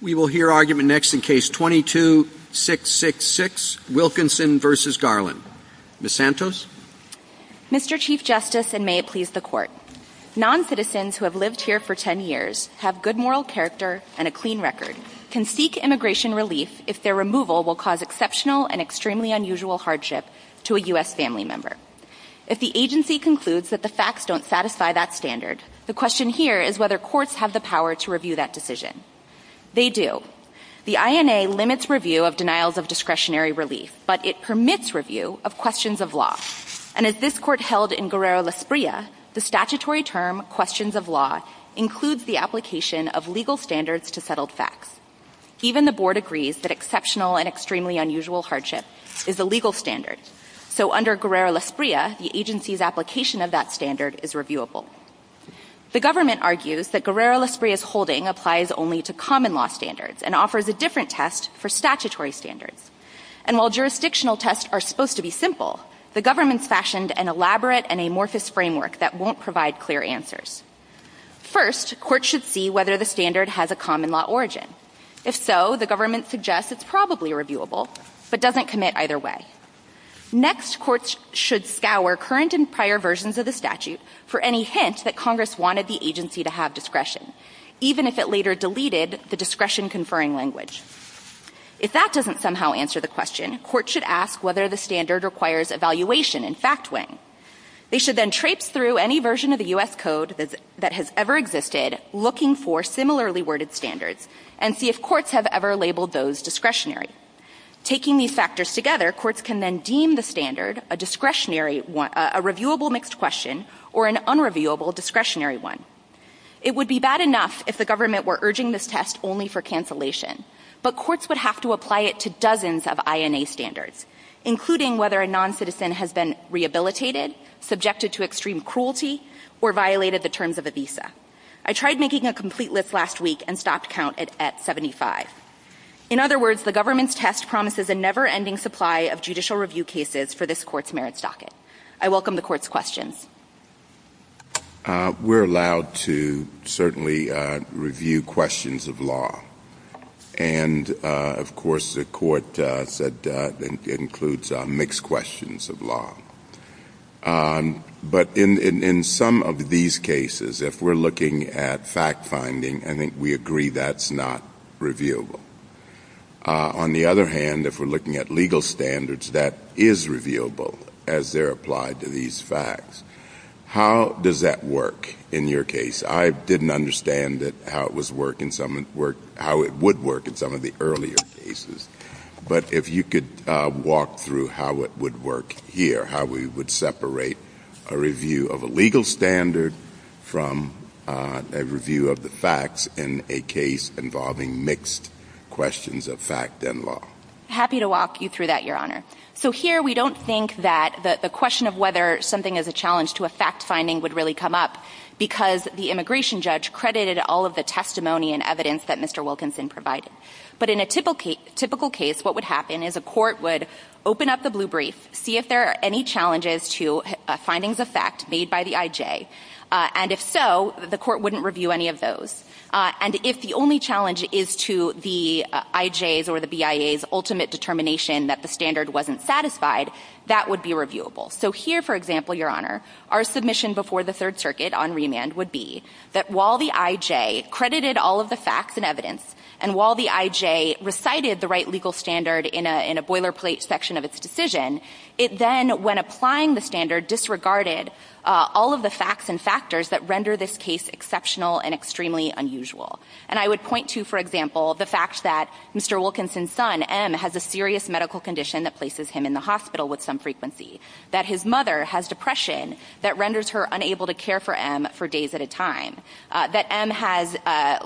We will hear argument next in Case 22-666, Wilkinson v. Garland. Ms. Santos? Mr. Chief Justice, and may it please the Court, non-citizens who have lived here for 10 years, have good moral character, and a clean record, can seek immigration release if their removal will cause exceptional and extremely unusual hardship to a U.S. family member. If the agency concludes that the facts don't satisfy that standard, the question here is whether courts have the power to review that decision. They do. The INA limits review of denials of discretionary relief, but it permits review of questions of law. And as this Court held in Guerrero-Las Brias, the statutory term, questions of law, includes the application of legal standards to settled facts. Even the Board agrees that exceptional and extremely unusual hardship is a legal standard. So under Guerrero-Las Brias, the agency's application of that standard is reviewable. The government argues that Guerrero-Las Brias holding applies only to common law standards and offers a different test for statutory standards. And while jurisdictional tests are supposed to be simple, the government's fashioned an elaborate and amorphous framework that won't provide clear answers. First, courts should see whether the standard has a common law origin. If so, the government suggests it's probably reviewable, but doesn't commit either way. Next, courts should scour current and prior versions of the statute for any hints that Congress wanted the agency to have discretion, even if it later deleted the discretion-conferring language. If that doesn't somehow answer the question, courts should ask whether the standard requires evaluation and fact-weighing. They should then traipse through any version of the U.S. Code that has ever existed, looking for similarly-worded standards, and see if courts have ever labeled those discretionary. Taking these factors together, courts can then deem the standard a reviewable mixed question or an unreviewable discretionary one. It would be bad enough if the government were urging this test only for cancellation, but courts would have to apply it to dozens of INA standards, including whether a noncitizen has been rehabilitated, subjected to extreme cruelty, or violated the terms of a visa. I tried making a complete list last week and stopped count at 75. In other words, the government's test promises a never-ending supply of judicial review cases for this Court's merits docket. I welcome the Court's questions. We're allowed to certainly review questions of law. And, of course, the Court said it includes mixed questions of law. But in some of these cases, if we're looking at fact-finding, I think we agree that's not reviewable. On the other hand, if we're looking at legal standards, that is reviewable as they're applied to these facts. How does that work in your case? I didn't understand how it would work in some of the earlier cases. But if you could walk through how it would work here, how we would separate a review of a legal standard from a review of the facts in a case involving mixed questions of fact and law. Happy to walk you through that, Your Honor. So here we don't think that the question of whether something is a challenge to a fact-finding would really come up because the immigration judge credited all of the testimony and evidence that Mr. Wilkinson provided. But in a typical case, what would happen is a court would open up the blue brief, see if there are any challenges to findings of fact made by the IJ. And if so, the court wouldn't review any of those. And if the only challenge is to the IJ's or the BIA's ultimate determination that the standard wasn't satisfied, that would be reviewable. So here, for example, Your Honor, our submission before the Third Circuit on remand would be that while the IJ credited all of the facts and evidence, and while the IJ recited the right legal standard in a boilerplate section of its decision, it then, when applying the standard, disregarded all of the facts and factors that render this case exceptional and extremely unusual. And I would point to, for example, the fact that Mr. Wilkinson's son, M, has a serious medical condition that places him in the hospital with some frequency, that his mother has depression that renders her unable to care for M for days at a time, that M has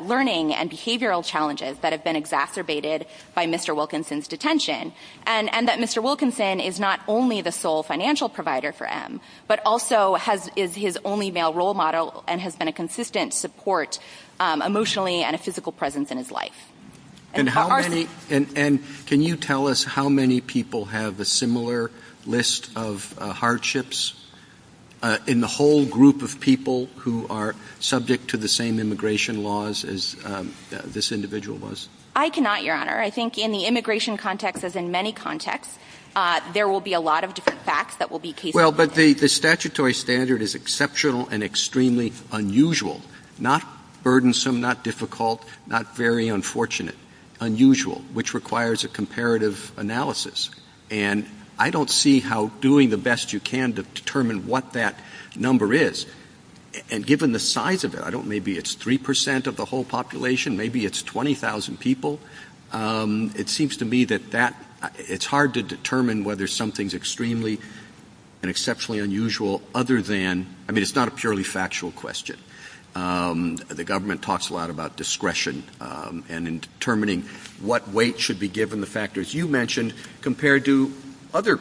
learning and behavioral challenges that have been exacerbated by Mr. Wilkinson's detention, and that Mr. Wilkinson is not only the sole financial provider for M, but also is his only male role model and has been a consistent support emotionally and a physical presence in his life. And can you tell us how many people have a similar list of hardships in the whole group of people who are subject to the same immigration laws as this individual was? I cannot, Your Honor. I think in the immigration context, as in many contexts, there will be a lot of different facts that will be case-by-case. Well, but the statutory standard is exceptional and extremely unusual, not burdensome, not difficult, not very unfortunate, unusual, which requires a comparative analysis. And I don't see how doing the best you can to determine what that number is. And given the size of it, I don't know, maybe it's 3% of the whole population, maybe it's 20,000 people. It seems to me that it's hard to determine whether something is extremely and exceptionally unusual other than, I mean, it's not a purely factual question. The government talks a lot about discretion and in determining what weight should be given the factors you mentioned compared to other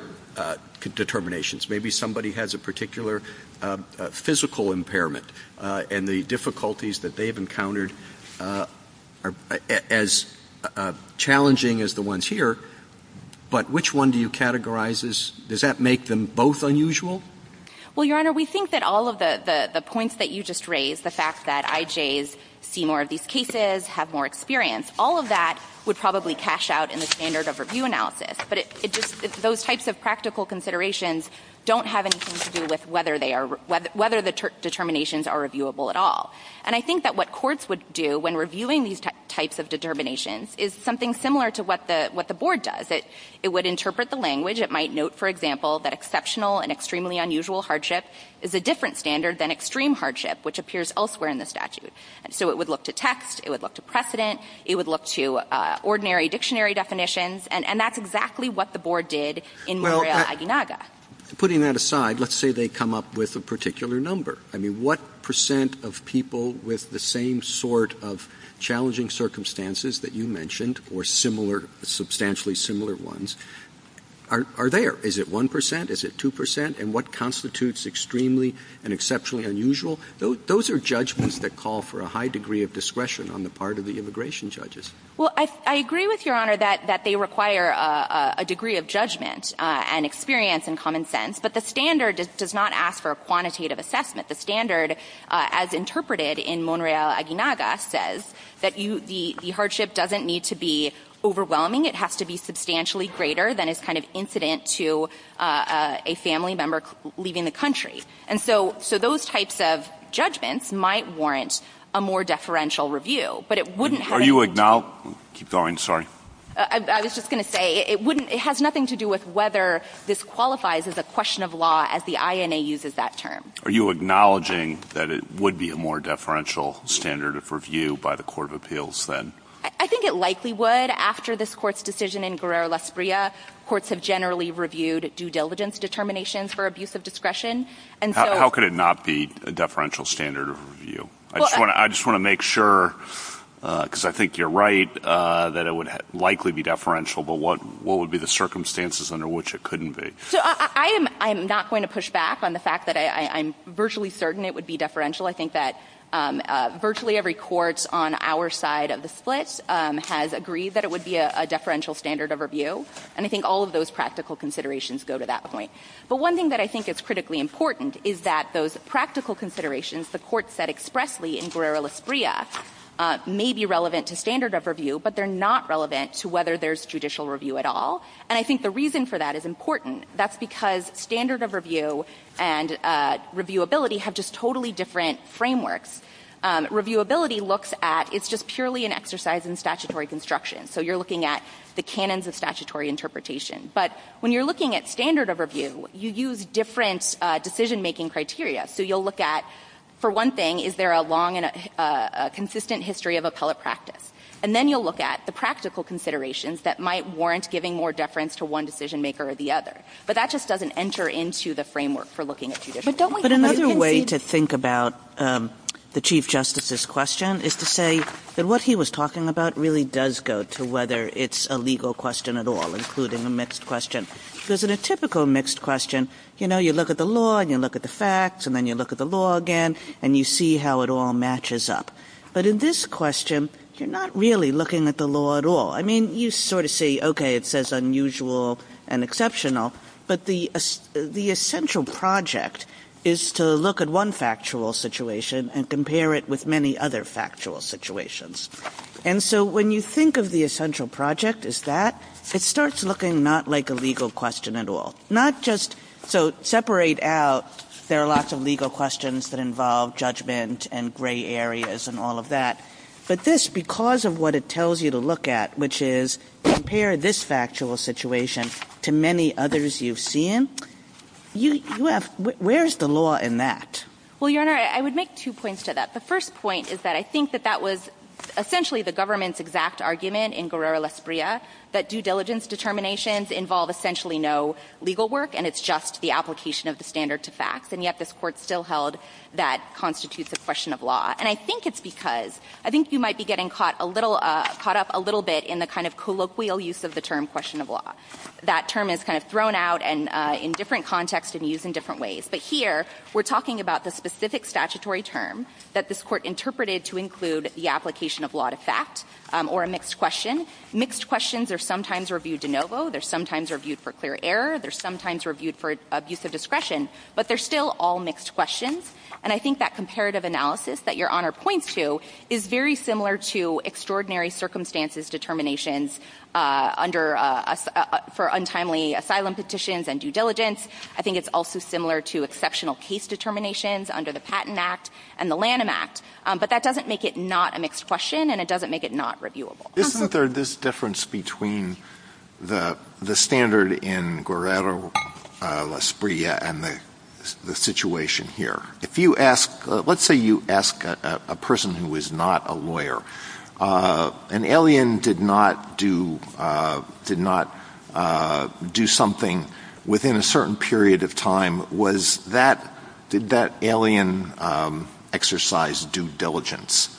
determinations. Maybe somebody has a particular physical impairment and the difficulties that they've encountered are as challenging as the ones here, but which one do you categorize as, does that make them both unusual? Well, Your Honor, we think that all of the points that you just raised, the fact that IJs see more of these cases, have more experience, all of that would probably cash out in the standard of review analysis. But those types of practical considerations don't have anything to do with whether the determinations are reviewable at all. And I think that what courts would do when reviewing these types of determinations is something similar to what the board does. It would interpret the language. It might note, for example, that exceptional and extremely unusual hardship is a different standard than extreme hardship, which appears elsewhere in the statute. So it would look to text, it would look to precedent, it would look to ordinary dictionary definitions, and that's exactly what the board did in Murillo-Aguinaga. Putting that aside, let's say they come up with a particular number. I mean, what percent of people with the same sort of challenging circumstances that you mentioned or substantially similar ones are there? Is it 1 percent? Is it 2 percent? And what constitutes extremely and exceptionally unusual? Those are judgments that call for a high degree of discretion on the part of the immigration judges. Well, I agree with Your Honor that they require a degree of judgment and experience and common sense, but the standard does not ask for a quantitative assessment. The standard, as interpreted in Murillo-Aguinaga, says that the hardship doesn't need to be overwhelming. It has to be substantially greater than is kind of incident to a family member leaving the country. And so those types of judgments might warrant a more deferential review, but it wouldn't have been— Are you—keep going, sorry. I was just going to say it wouldn't— it has nothing to do with whether this qualifies as a question of law as the INA uses that term. Are you acknowledging that it would be a more deferential standard of review by the Court of Appeals then? I think it likely would. After this Court's decision in Guerrero-Las Brias, courts have generally reviewed due diligence determinations for abuse of discretion, and so— How could it not be a deferential standard of review? I just want to make sure, because I think you're right, that it would likely be deferential, but what would be the circumstances under which it couldn't be? I am not going to push back on the fact that I'm virtually certain it would be deferential. I think that virtually every court on our side of the split has agreed that it would be a deferential standard of review, and I think all of those practical considerations go to that point. But one thing that I think is critically important is that those practical considerations, the courts said expressly in Guerrero-Las Brias, may be relevant to standard of review, but they're not relevant to whether there's judicial review at all. And I think the reason for that is important. That's because standard of review and reviewability have just totally different frameworks. Reviewability looks at— it's just purely an exercise in statutory construction, so you're looking at the canons of statutory interpretation. But when you're looking at standard of review, you use different decision-making criteria. So you'll look at, for one thing, is there a long and consistent history of appellate practice? And then you'll look at the practical considerations that might warrant giving more deference to one decision-maker or the other. But that just doesn't enter into the framework for looking at judicial review. But another way to think about the Chief Justice's question is to say that what he was talking about really does go to whether it's a legal question at all, including a mixed question. Because in a typical mixed question, you look at the law and you look at the facts and then you look at the law again and you see how it all matches up. But in this question, you're not really looking at the law at all. I mean, you sort of say, okay, it says unusual and exceptional, but the essential project is to look at one factual situation and compare it with many other factual situations. And so when you think of the essential project as that, it starts looking not like a legal question at all. Not just—so separate out, there are lots of legal questions that involve judgment and gray areas and all of that. But this, because of what it tells you to look at, which is compare this factual situation to many others you've seen, you have—where's the law in that? Well, Your Honor, I would make two points to that. The first point is that I think that that was essentially the government's exact argument in Guerrero-Lasprilla that due diligence determinations involve essentially no legal work and it's just the application of the standard to facts. And yet this court still held that constitutes a question of law. And I think it's because— I think you might be getting caught up a little bit in the kind of colloquial use of the term question of law. That term is kind of thrown out and in different contexts and used in different ways. But here, we're talking about the specific statutory term that this court interpreted to include the application of law to facts or a mixed question. Mixed questions are sometimes reviewed de novo. They're sometimes reviewed for clear error. They're sometimes reviewed for abuse of discretion. But they're still all mixed questions. And I think that comparative analysis that Your Honor points to is very similar to extraordinary circumstances determinations under—for untimely asylum petitions and due diligence. I think it's also similar to exceptional case determinations under the Patent Act and the Lanham Act. But that doesn't make it not a mixed question and it doesn't make it not reviewable. Isn't there this difference between the standard in Guerrero, La Espritia, and the situation here? If you ask—let's say you ask a person who is not a lawyer, an alien did not do something within a certain period of time. Was that—did that alien exercise due diligence?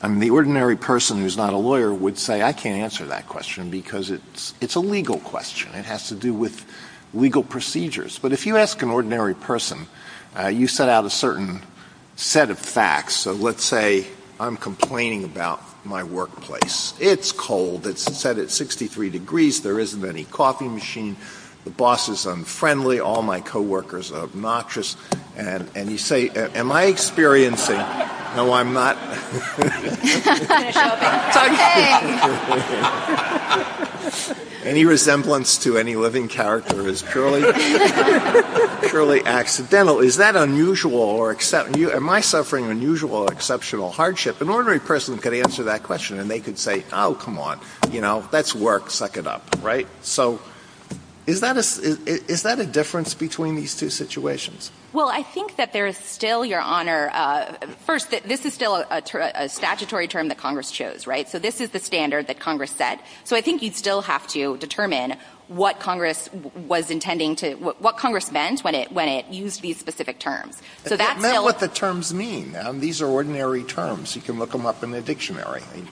I mean, the ordinary person who's not a lawyer would say, I can't answer that question because it's a legal question. It has to do with legal procedures. But if you ask an ordinary person, you set out a certain set of facts. So let's say I'm complaining about my workplace. It's cold. It's set at 63 degrees. There isn't any coffee machine. The boss is unfriendly. All my coworkers are obnoxious. And you say, am I experiencing— I'm sorry. Any resemblance to any living character is purely accidental. Is that unusual or—am I suffering unusual or exceptional hardship? An ordinary person could answer that question and they could say, oh, come on, you know, that's work. Suck it up, right? So is that a difference between these two situations? Well, I think that there is still, Your Honor— First, this is still a statutory term that Congress chose, right? So this is the standard that Congress set. So I think you still have to determine what Congress was intending to— what Congress meant when it used these specific terms. It doesn't matter what the terms mean. These are ordinary terms. You can look them up in the dictionary. You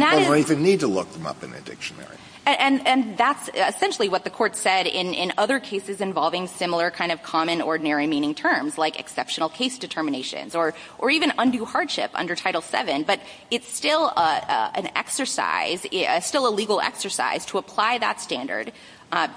don't even need to look them up in the dictionary. And that's essentially what the court said in other cases involving similar kind of common ordinary meaning terms like exceptional case determinations or even undue hardship under Title VII. But it's still an exercise—still a legal exercise to apply that standard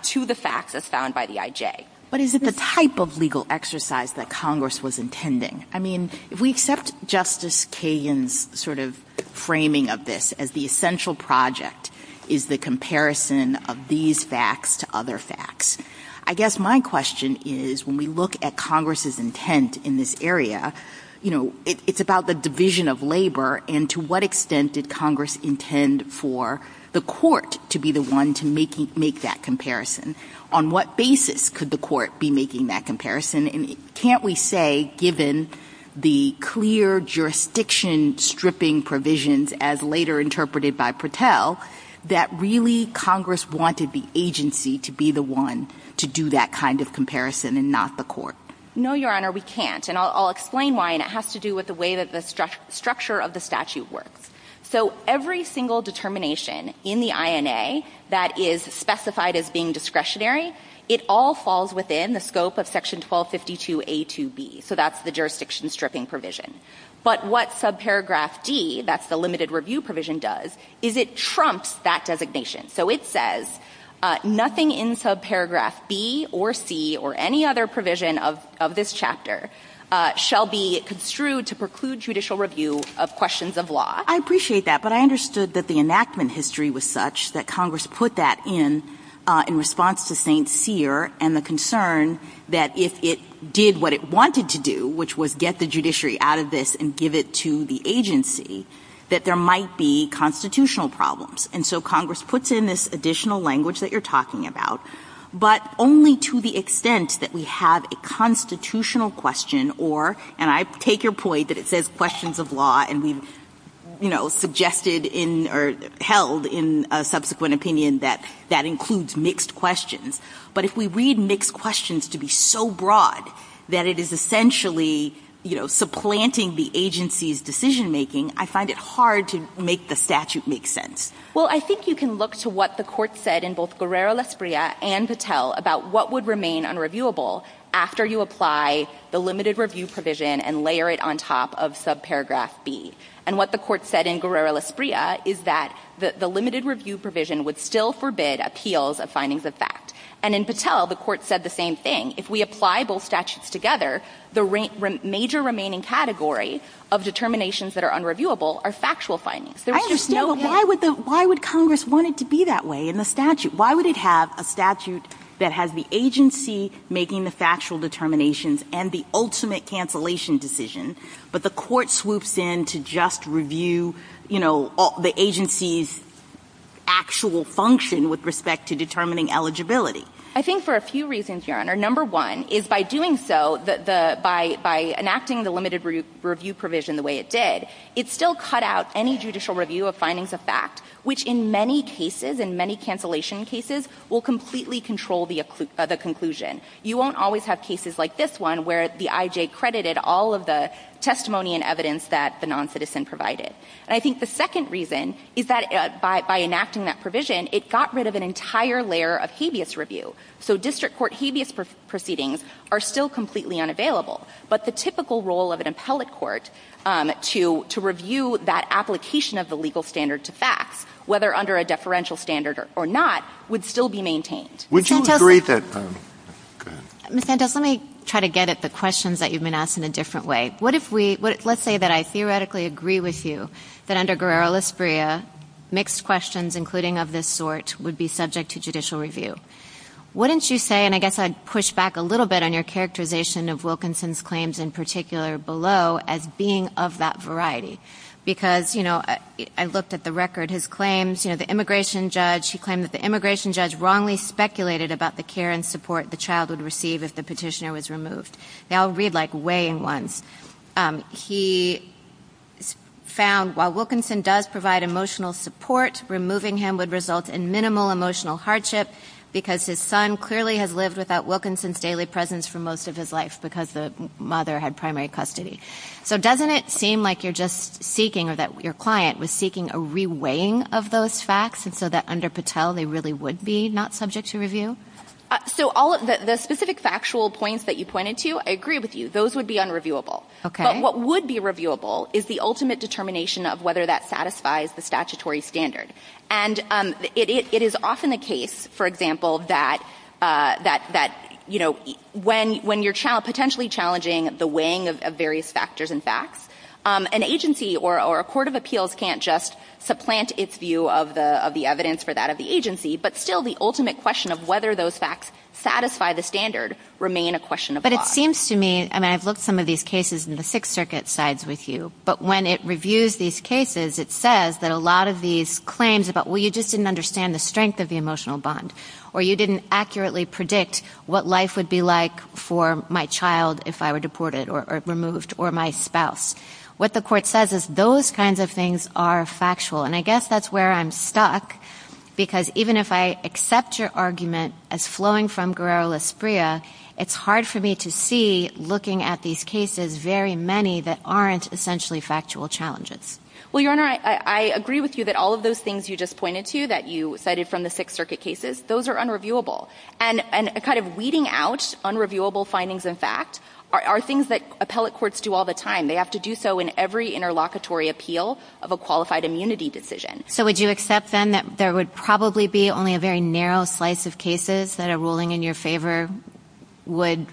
to the facts as found by the IJ. But is it the type of legal exercise that Congress was intending? I mean, if we accept Justice Kagan's sort of framing of this as the essential project is the comparison of these facts to other facts, I guess my question is when we look at Congress's intent in this area, you know, it's about the division of labor, and to what extent did Congress intend for the court to be the one to make that comparison? On what basis could the court be making that comparison? And can't we say, given the clear jurisdiction stripping provisions as later interpreted by Patel, that really Congress wanted the agency to be the one to do that kind of comparison and not the court? No, Your Honor, we can't, and I'll explain why, and it has to do with the way that the structure of the statute works. So every single determination in the INA that is specified as being discretionary, it all falls within the scope of Section 1252A2B. So that's the jurisdiction stripping provision. But what subparagraph D, that's the limited review provision, does is it trumps that designation. So it says, nothing in subparagraph B or C or any other provision of this chapter shall be construed to preclude judicial review of questions of law. I appreciate that, but I understood that the enactment history was such that Congress put that in in response to St. Cyr and the concern that if it did what it wanted to do, which was get the judiciary out of this and give it to the agency, that there might be constitutional problems. And so Congress puts in this additional language that you're talking about, but only to the extent that we have a constitutional question or, and I take your point that it says questions of law, and we've, you know, suggested in or held in subsequent opinion that that includes mixed questions. But if we read mixed questions to be so broad that it is essentially, you know, supplanting the agency's decision-making, I find it hard to make the statute make sense. Well, I think you can look to what the court said in both Guerrero-Lasprilla and Patel about what would remain unreviewable after you apply the limited review provision and layer it on top of subparagraph B. And what the court said in Guerrero-Lasprilla is that the limited review provision would still forbid appeals of findings of fact. And in Patel, the court said the same thing. If we apply both statutes together, the major remaining category of determinations that are unreviewable are factual findings. I understand, but why would Congress want it to be that way in the statute? Why would it have a statute that has the agency making the factual determinations and the ultimate cancellation decision, but the court swoops in to just review, you know, the agency's actual function with respect to determining eligibility? I think for a few reasons, Your Honor. Number one is by doing so, by enacting the limited review provision the way it did, it still cut out any judicial review of findings of fact, which in many cases, in many cancellation cases, will completely control the conclusion. You won't always have cases like this one where the IJ credited all of the testimony and evidence that the noncitizen provided. And I think the second reason is that by enacting that provision, it got rid of an entire layer of habeas review. So district court habeas proceedings are still completely unavailable, but the typical role of an appellate court to review that application of the legal standard to fact, whether under a deferential standard or not, would still be maintained. Would you agree to that? Ms. Santos, let me try to get at the questions that you've been asked in a different way. What if we, let's say that I theoretically agree with you that under Guerrero-Lasprilla, mixed questions, including of this sort, would be subject to judicial review. Wouldn't you say, and I guess I'd push back a little bit on your characterization of Wilkinson's claims in particular below as being of that variety? Because, you know, I looked at the record. His claims, you know, the immigration judge, he claimed that the immigration judge wrongly speculated about the care and support the child would receive if the petitioner was removed. Now, I'll read, like, way in one. He found while Wilkinson does provide emotional support, removing him would result in minimal emotional hardship, because his son clearly has lived without Wilkinson's daily presence for most of his life because the mother had primary custody. So doesn't it seem like you're just seeking, or that your client was seeking a reweighing of those facts so that under Patel they really would be not subject to review? So the specific factual points that you pointed to, I agree with you, those would be unreviewable. Okay. But what would be reviewable is the ultimate determination of whether that satisfies the statutory standard. And it is often the case, for example, that, you know, when you're potentially challenging the weighing of various factors and facts, an agency or a court of appeals can't just supplant its view of the evidence for that of the agency, but still the ultimate question of whether those facts satisfy the standard remain a question of law. But it seems to me, and I've looked at some of these cases in the Sixth Circuit sides with you, but when it reviews these cases, it says that a lot of these claims about, well, you just didn't understand the strength of the emotional bond, or you didn't accurately predict what life would be like for my child if I were deported or removed, or my spouse. What the court says is those kinds of things are factual. And I guess that's where I'm stuck because even if I accept your argument as flowing from Guerrero-Lasprilla, it's hard for me to see, looking at these cases, very many that aren't essentially factual challenges. Well, Your Honor, I agree with you that all of those things you just pointed to that you cited from the Sixth Circuit cases, those are unreviewable. And kind of weeding out unreviewable findings and facts are things that appellate courts do all the time. They have to do so in every interlocutory appeal of a qualified immunity decision. So would you accept then that there would probably be only a very narrow slice of cases that a ruling in your favor would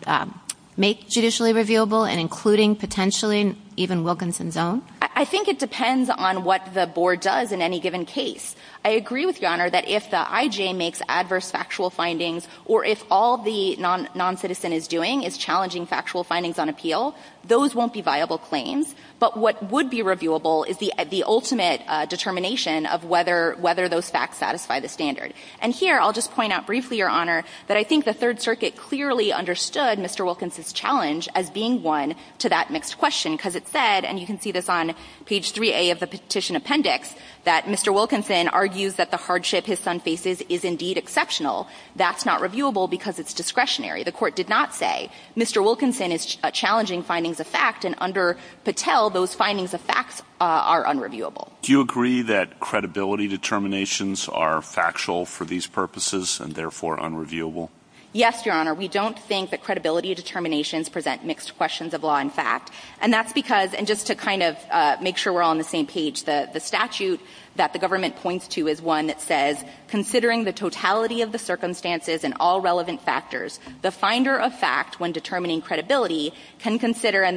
make judicially reviewable and including potentially even Wilkinson's own? I think it depends on what the board does in any given case. I agree with you, Your Honor, that if the IJ makes adverse factual findings or if all the noncitizen is doing is challenging factual findings on appeal, those won't be viable claims. But what would be reviewable is the ultimate determination of whether those facts satisfy the standard. And here I'll just point out briefly, Your Honor, that I think the Third Circuit clearly understood Mr. Wilkinson's challenge as being one to that next question because it said, and you can see this on page 3A of the petition appendix, that Mr. Wilkinson argues that the hardship his son faces is indeed exceptional. That's not reviewable because it's discretionary. The court did not say Mr. Wilkinson is challenging findings of fact, and under Patel those findings of facts are unreviewable. Do you agree that credibility determinations are factual for these purposes and therefore unreviewable? Yes, Your Honor. We don't think that credibility determinations present mixed questions of law and fact. And that's because, and just to kind of make sure we're all on the same page, the statute that the government points to is one that says, considering the totality of the circumstances and all relevant factors, the finder of fact when determining credibility can consider a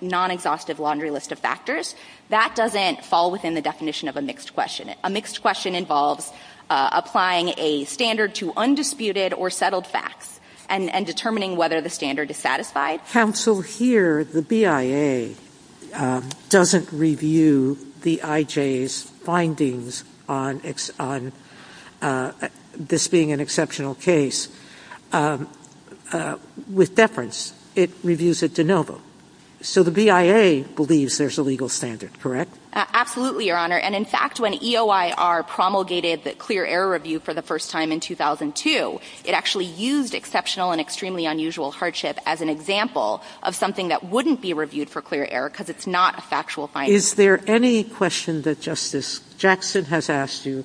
non-exhaustive laundry list of factors. That doesn't fall within the definition of a mixed question. A mixed question involves applying a standard to undisputed or settled facts and determining whether the standard is satisfied. That counsel here, the BIA, doesn't review the IJ's findings on this being an exceptional case with deference. It reviews it de novo. So the BIA believes there's a legal standard, correct? Absolutely, Your Honor. And, in fact, when EOIR promulgated the clear error review for the first time in 2002, it actually used exceptional and extremely unusual hardship as an example of something that wouldn't be reviewed for clear error because it's not a factual finding. Is there any question that Justice Jackson has asked you,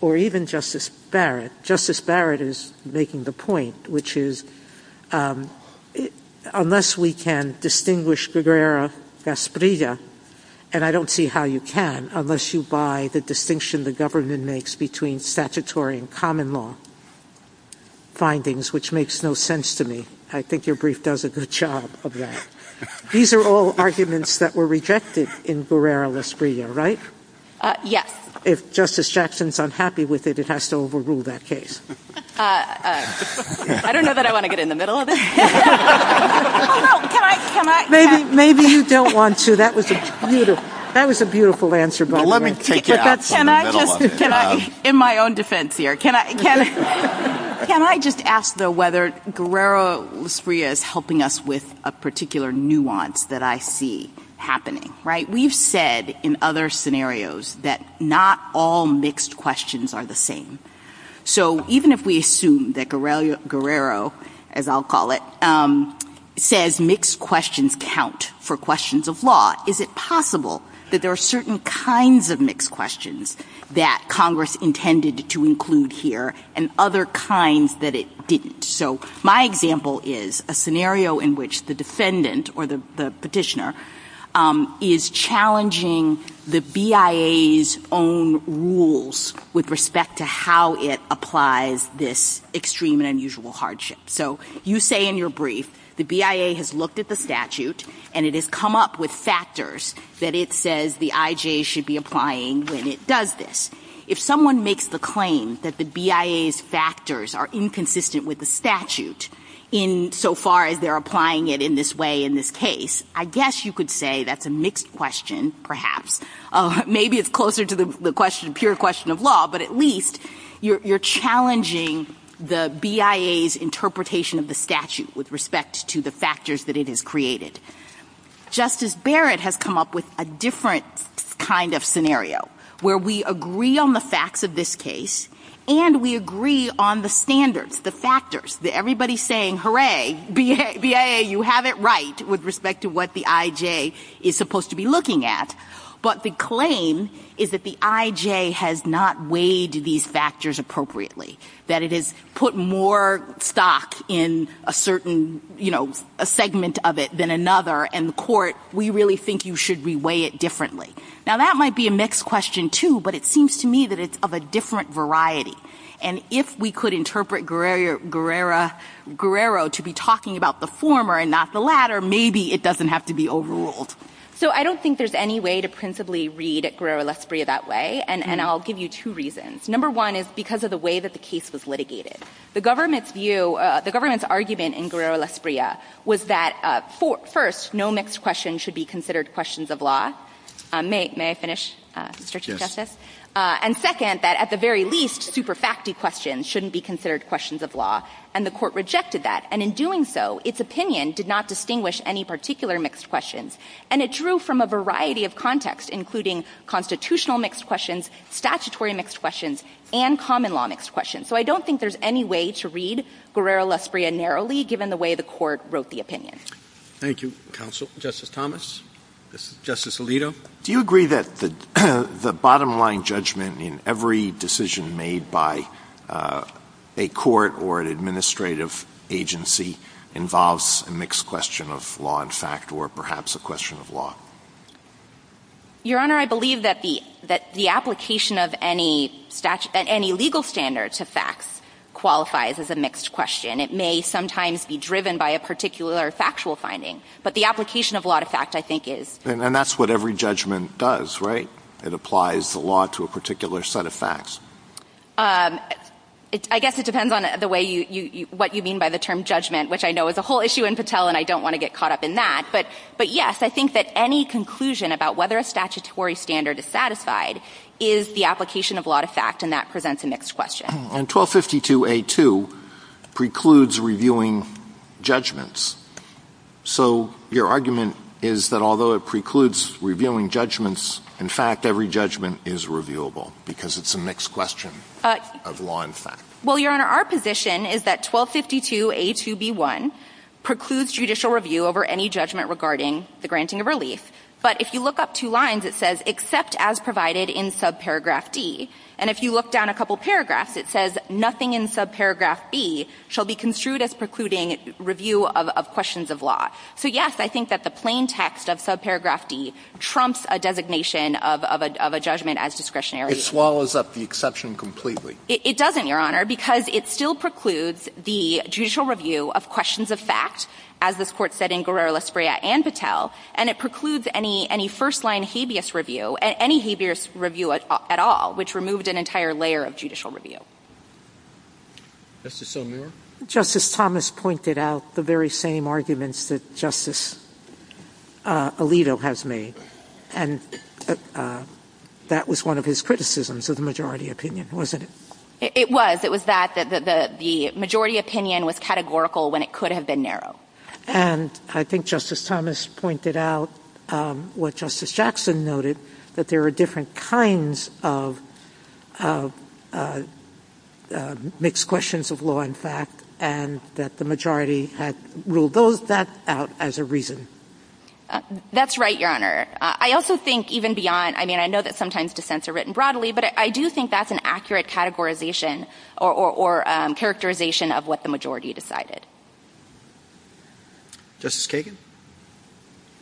or even Justice Barrett? Justice Barrett is making the point, which is, unless we can distinguish Guerrera-Gasprilla, and I don't see how you can, unless you buy the distinction the government makes between statutory and common law findings, which makes no sense to me. I think your brief does a good job of that. These are all arguments that were rejected in Guerrera-Gasprilla, right? Yes. If Justice Jackson's unhappy with it, it has to overrule that case. I don't know that I want to get in the middle of it. Maybe you don't want to. That was a beautiful answer. In my own defense here, can I just ask, though, whether Guerrera-Gasprilla is helping us with a particular nuance that I see happening, right? We've said in other scenarios that not all mixed questions are the same. So even if we assume that Guerrero, as I'll call it, says mixed questions count for questions of law, is it possible that there are certain kinds of mixed questions that Congress intended to include here and other kinds that it didn't? So my example is a scenario in which the defendant or the petitioner is challenging the BIA's own rules with respect to how it applies this extreme and unusual hardship. So you say in your brief the BIA has looked at the statute and it has come up with factors that it says the IJ should be applying when it does this. If someone makes the claim that the BIA's factors are inconsistent with the statute in so far as they're applying it in this way in this case, I guess you could say that's a mixed question, perhaps. Maybe it's closer to the pure question of law, but at least you're challenging the BIA's interpretation of the statute with respect to the factors that it has created. Justice Barrett has come up with a different kind of scenario where we agree on the facts of this case and we agree on the standards, the factors. Everybody's saying, hooray, BIA, you have it right with respect to what the IJ is supposed to be looking at, but the claim is that the IJ has not weighed these factors appropriately, that it has put more stock in a certain segment of it than another, and the court, we really think you should re-weigh it differently. Now that might be a mixed question too, but it seems to me that it's of a different variety, and if we could interpret Guerrero to be talking about the former and not the latter, maybe it doesn't have to be overruled. So I don't think there's any way to principally read Guerrero-Lasprilla that way, and I'll give you two reasons. Number one is because of the way that the case was litigated. The government's view, the government's argument in Guerrero-Lasprilla was that, first, no mixed question should be considered questions of law. May I finish, Mr. Chief Justice? Yes. And second, that at the very least, super factly questions shouldn't be considered questions of law, and the court rejected that, and in doing so, its opinion did not distinguish any particular mixed questions, and it drew from a variety of contexts, including constitutional mixed questions, statutory mixed questions, and common law mixed questions. So I don't think there's any way to read Guerrero-Lasprilla narrowly, given the way the court wrote the opinion. Thank you, counsel. Justice Thomas? Justice Alito? Do you agree that the bottom-line judgment in every decision made by a court or an administrative agency involves a mixed question of law and fact, or perhaps a question of law? Your Honor, I believe that the application of any legal standard to facts qualifies as a mixed question. It may sometimes be driven by a particular factual finding, but the application of law to fact, I think, is. And that's what every judgment does, right? It applies the law to a particular set of facts. I guess it depends on what you mean by the term judgment, which I know is a whole issue in Patel, and I don't want to get caught up in that. But, yes, I think that any conclusion about whether a statutory standard is satisfied is the application of law to fact, and that presents a mixed question. And 1252A2 precludes reviewing judgments. So your argument is that although it precludes reviewing judgments, in fact, every judgment is reviewable because it's a mixed question of law and fact. Well, Your Honor, our position is that 1252A2B1 precludes judicial review over any judgment regarding the granting of relief. But if you look up two lines, it says, except as provided in subparagraph D. And if you look down a couple paragraphs, it says, nothing in subparagraph B shall be construed as precluding review of questions of law. So, yes, I think that the plain text of subparagraph D trumps a designation of a judgment as discretionary. It swallows up the exception completely. It doesn't, Your Honor, because it still precludes the judicial review of questions of fact, as this Court said in Guerrero-Las Breas and Patel, and it precludes any first-line habeas review, any habeas review at all, which removed an entire layer of judicial review. Justice O'Meara? Justice Thomas pointed out the very same arguments that Justice Alito has made, and that was one of his criticisms of the majority opinion, wasn't it? It was. It was that the majority opinion was categorical when it could have been narrow. And I think Justice Thomas pointed out what Justice Jackson noted, that there are different kinds of mixed questions of law and fact, and that the majority had ruled that out as a reason. That's right, Your Honor. I also think even beyond, I mean, I know that sometimes dissents are written broadly, but I do think that's an accurate categorization or characterization of what the majority decided. Justice Kagan?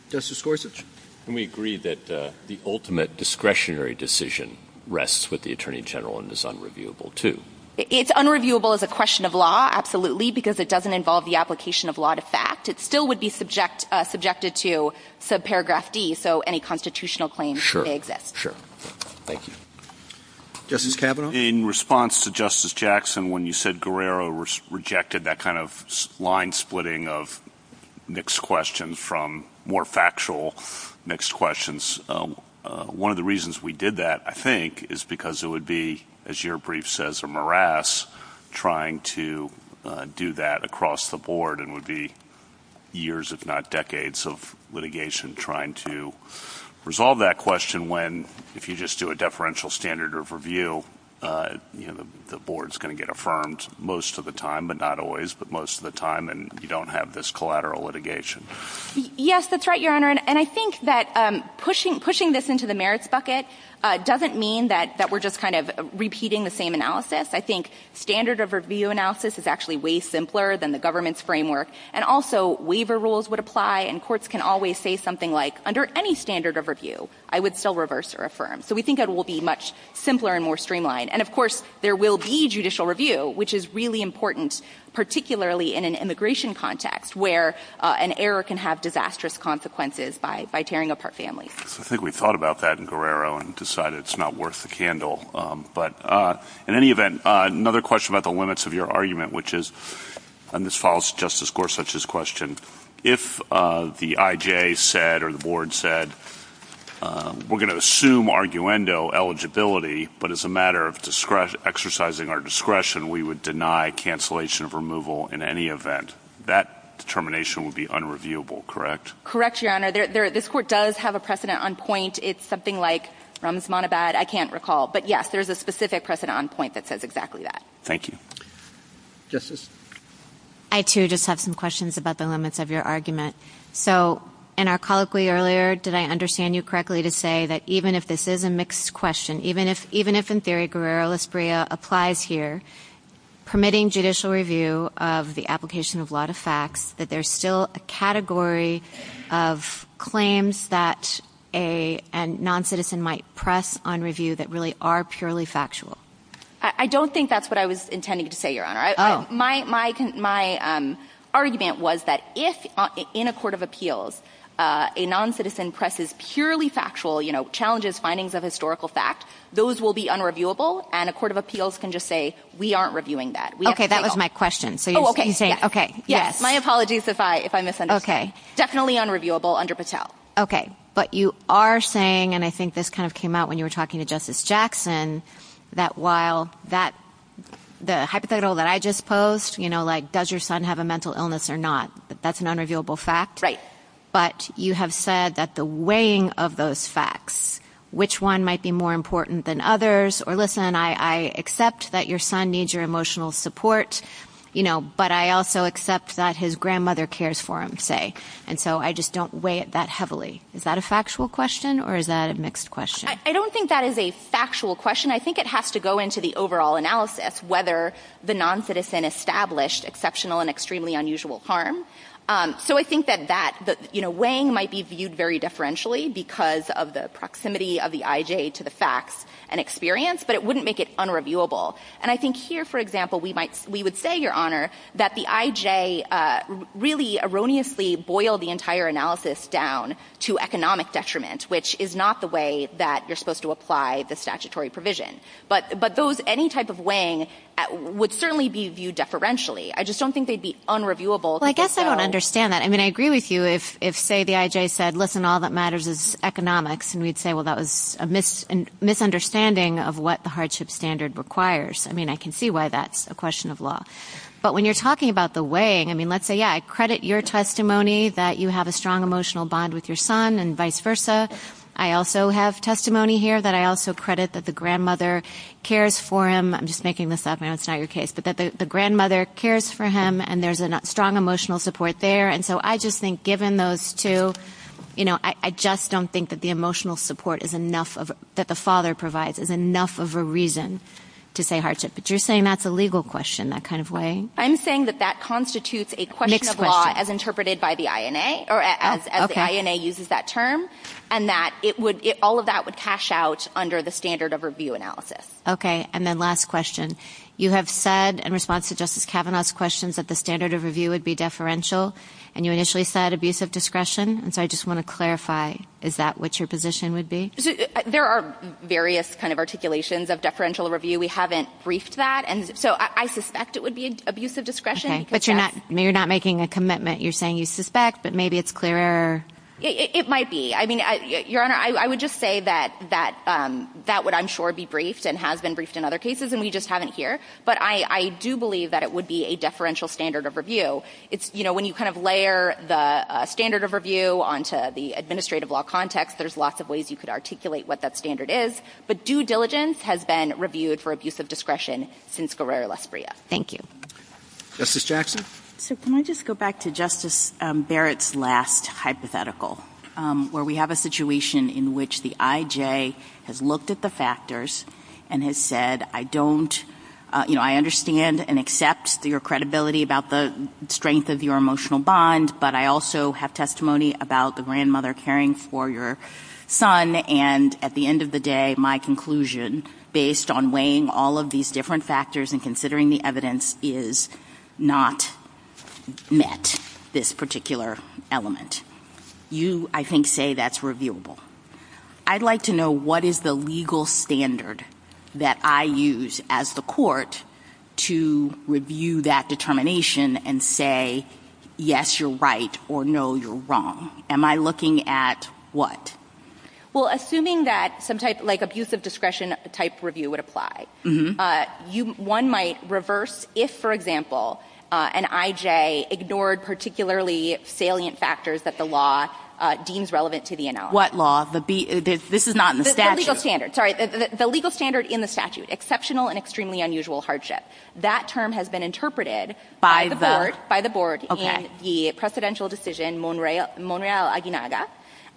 Justice Gorsuch? Can we agree that the ultimate discretionary decision rests with the Attorney General and is unreviewable too? It's unreviewable as a question of law, absolutely, because it doesn't involve the application of law to fact. It still would be subjected to subparagraph D, so any constitutional claims may exist. Sure. Thank you. Justice Kavanaugh? In response to Justice Jackson, when you said Guerrero rejected that kind of line splitting of mixed questions from more factual mixed questions, one of the reasons we did that, I think, is because it would be, as your brief says, a morass trying to do that across the board and would be years, if not decades, of litigation trying to resolve that question when, if you just do a deferential standard of review, the board's going to get affirmed most of the time, but not always, but most of the time, and you don't have this collateral litigation. Yes, that's right, Your Honor, and I think that pushing this into the merits bucket doesn't mean that we're just kind of repeating the same analysis. I think standard of review analysis is actually way simpler than the government's framework, and also waiver rules would apply, and courts can always say something like, under any standard of review, I would still reverse or affirm. So we think it will be much simpler and more streamlined. And, of course, there will be judicial review, which is really important, particularly in an immigration context where an error can have disastrous consequences by tearing apart families. I think we've thought about that in Guerrero and decided it's not worth the candle. But in any event, another question about the limits of your argument, which is, and this follows Justice Gorsuch's question, if the IJA said or the board said, we're going to assume arguendo eligibility, but as a matter of exercising our discretion, we would deny cancellation of removal in any event, that determination would be unreviewable, correct? Correct, Your Honor. This court does have a precedent on point. It's something like Ramz Manabad. I can't recall, but, yes, there's a specific precedent on point that says exactly that. Thank you. Justice? I, too, just have some questions about the limits of your argument. So, in our colloquy earlier, did I understand you correctly to say that even if this is a mixed question, even if, in theory, Guerrero-Lasbria applies here, permitting judicial review of the application of law to facts, that there's still a category of claims that a noncitizen might press on review that really are purely factual? I don't think that's what I was intending to say, Your Honor. Oh. My argument was that if, in a court of appeals, a noncitizen presses purely factual challenges, findings of historical fact, those will be unreviewable, and a court of appeals can just say, we aren't reviewing that. Okay, that was my question. Oh, okay. Yes, my apologies if I misunderstood. Okay. Definitely unreviewable under Patel. Okay. But you are saying, and I think this kind of came out when you were talking to Justice Jackson, that while the hypothetical that I just posed, you know, like, does your son have a mental illness or not, that's an unreviewable fact. Right. But you have said that the weighing of those facts, which one might be more important than others, or listen, I accept that your son needs your emotional support, you know, but I also accept that his grandmother cares for him, say, and so I just don't weigh it that heavily. Is that a factual question or is that a mixed question? I don't think that is a factual question. I think it has to go into the overall analysis, whether the noncitizen established exceptional and extremely unusual harm. So I think that that, you know, weighing might be viewed very differentially because of the proximity of the IJ to the facts and experience, but it wouldn't make it unreviewable. And I think here, for example, we would say, Your Honor, that the IJ really erroneously boiled the entire analysis down to economic detriment, which is not the way that you're supposed to apply the statutory provision. But any type of weighing would certainly be viewed deferentially. I just don't think they'd be unreviewable. Well, I guess I don't understand that. I mean, I agree with you if, say, the IJ said, Listen, all that matters is economics, and we'd say, Well, that was a misunderstanding of what the hardship standard requires. I mean, I can see why that's a question of law. But when you're talking about the weighing, I mean, let's say, yeah, I credit your testimony that you have a strong emotional bond with your son and vice versa. I also have testimony here that I also credit that the grandmother cares for him. I'm just making this up now. It's not your case. But the grandmother cares for him, and there's a strong emotional support there. And so I just think given those two, you know, I just don't think that the emotional support that the father provides is enough of a reason to say hardship. But you're saying that's a legal question, that kind of weighing? I'm saying that that constitutes a question of law as interpreted by the INA or as the INA uses that term, and that all of that would cash out under the standard of review analysis. Okay. And then last question. You have said in response to Justice Kavanaugh's questions that the standard of review would be deferential, and you initially said abusive discretion. And so I just want to clarify, is that what your position would be? There are various kind of articulations of deferential review. We haven't briefed that. And so I suspect it would be abusive discretion. Okay. But you're not making a commitment. You're saying you suspect, but maybe it's clearer. It might be. I mean, Your Honor, I would just say that that would, I'm sure, be briefed and has been briefed in other cases, and we just haven't here. But I do believe that it would be a deferential standard of review. You know, when you kind of layer the standard of review onto the administrative law context, there's lots of ways you could articulate what that standard is. But due diligence has been reviewed for abusive discretion since Guerrero-Las Brias. Thank you. Justice Jackson. So can I just go back to Justice Barrett's last hypothetical, where we have a situation in which the IJ has looked at the factors and has said, I don't, you know, I understand and accept your credibility about the strength of your emotional bond, but I also have testimony about the grandmother caring for your son, and at the end of the day, my conclusion, based on weighing all of these different factors and considering the evidence, is not met, this particular element. You, I think, say that's reviewable. I'd like to know what is the legal standard that I use as the court to review that determination and say, yes, you're right, or no, you're wrong. Am I looking at what? Well, assuming that some type, like abusive discretion type review would apply. One might reverse if, for example, an IJ ignored particularly salient factors that the law deems relevant to the NL. What law? This is not in the statute. The legal standard. Sorry, the legal standard in the statute, exceptional and extremely unusual hardship. That term has been interpreted by the board in the precedential decision, Monreal-Aguinaga,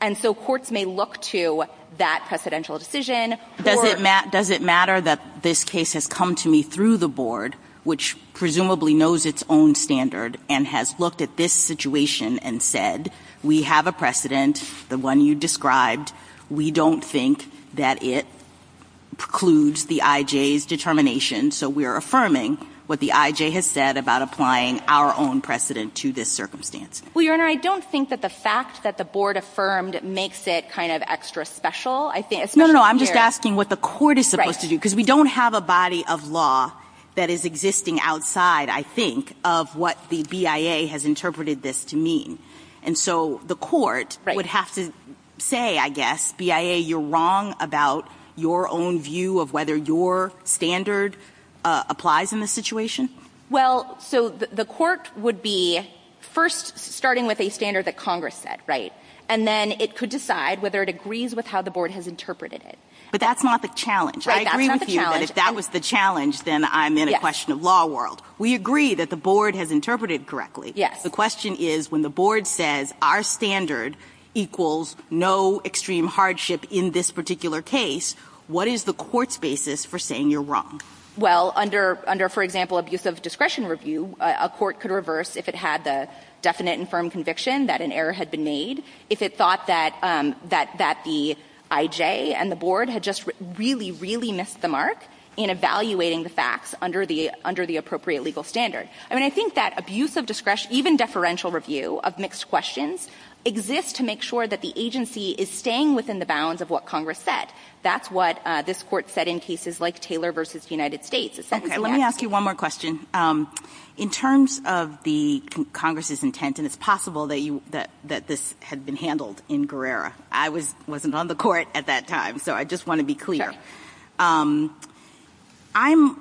and so courts may look to that precedential decision. Does it matter that this case has come to me through the board, which presumably knows its own standard and has looked at this situation and said, we have a precedent, the one you described. We don't think that it precludes the IJ's determination, so we're affirming what the IJ has said about applying our own precedent to this circumstance. Well, Your Honor, I don't think that the fact that the board affirmed makes it kind of extra special. No, no, I'm just asking what the court is supposed to do, because we don't have a body of law that is existing outside, I think, of what the BIA has interpreted this to mean. And so the court would have to say, I guess, BIA, you're wrong about your own view of whether your standard applies in this situation. Well, so the court would be first starting with a standard that Congress said, right, and then it could decide whether it agrees with how the board has interpreted it. But that's not the challenge. Right, that's not the challenge. I agree with you, but if that was the challenge, then I'm in a question of law world. We agree that the board has interpreted it correctly. Yes. The question is, when the board says our standard equals no extreme hardship in this particular case, what is the court's basis for saying you're wrong? Well, under, for example, abuse of discretion review, a court could reverse if it had the definite and firm conviction that an error had been made, if it thought that the IJ and the board had just really, really missed the mark in evaluating the facts under the appropriate legal standard. I mean, I think that abuse of discretion, even deferential review of mixed questions, exists to make sure that the agency is staying within the bounds of what Congress said. That's what this court said in cases like Taylor v. United States. Okay, let me ask you one more question. In terms of the Congress's intent, and it's possible that this had been handled in Guerrera. I wasn't on the court at that time, so I just want to be clear. Sure. I'm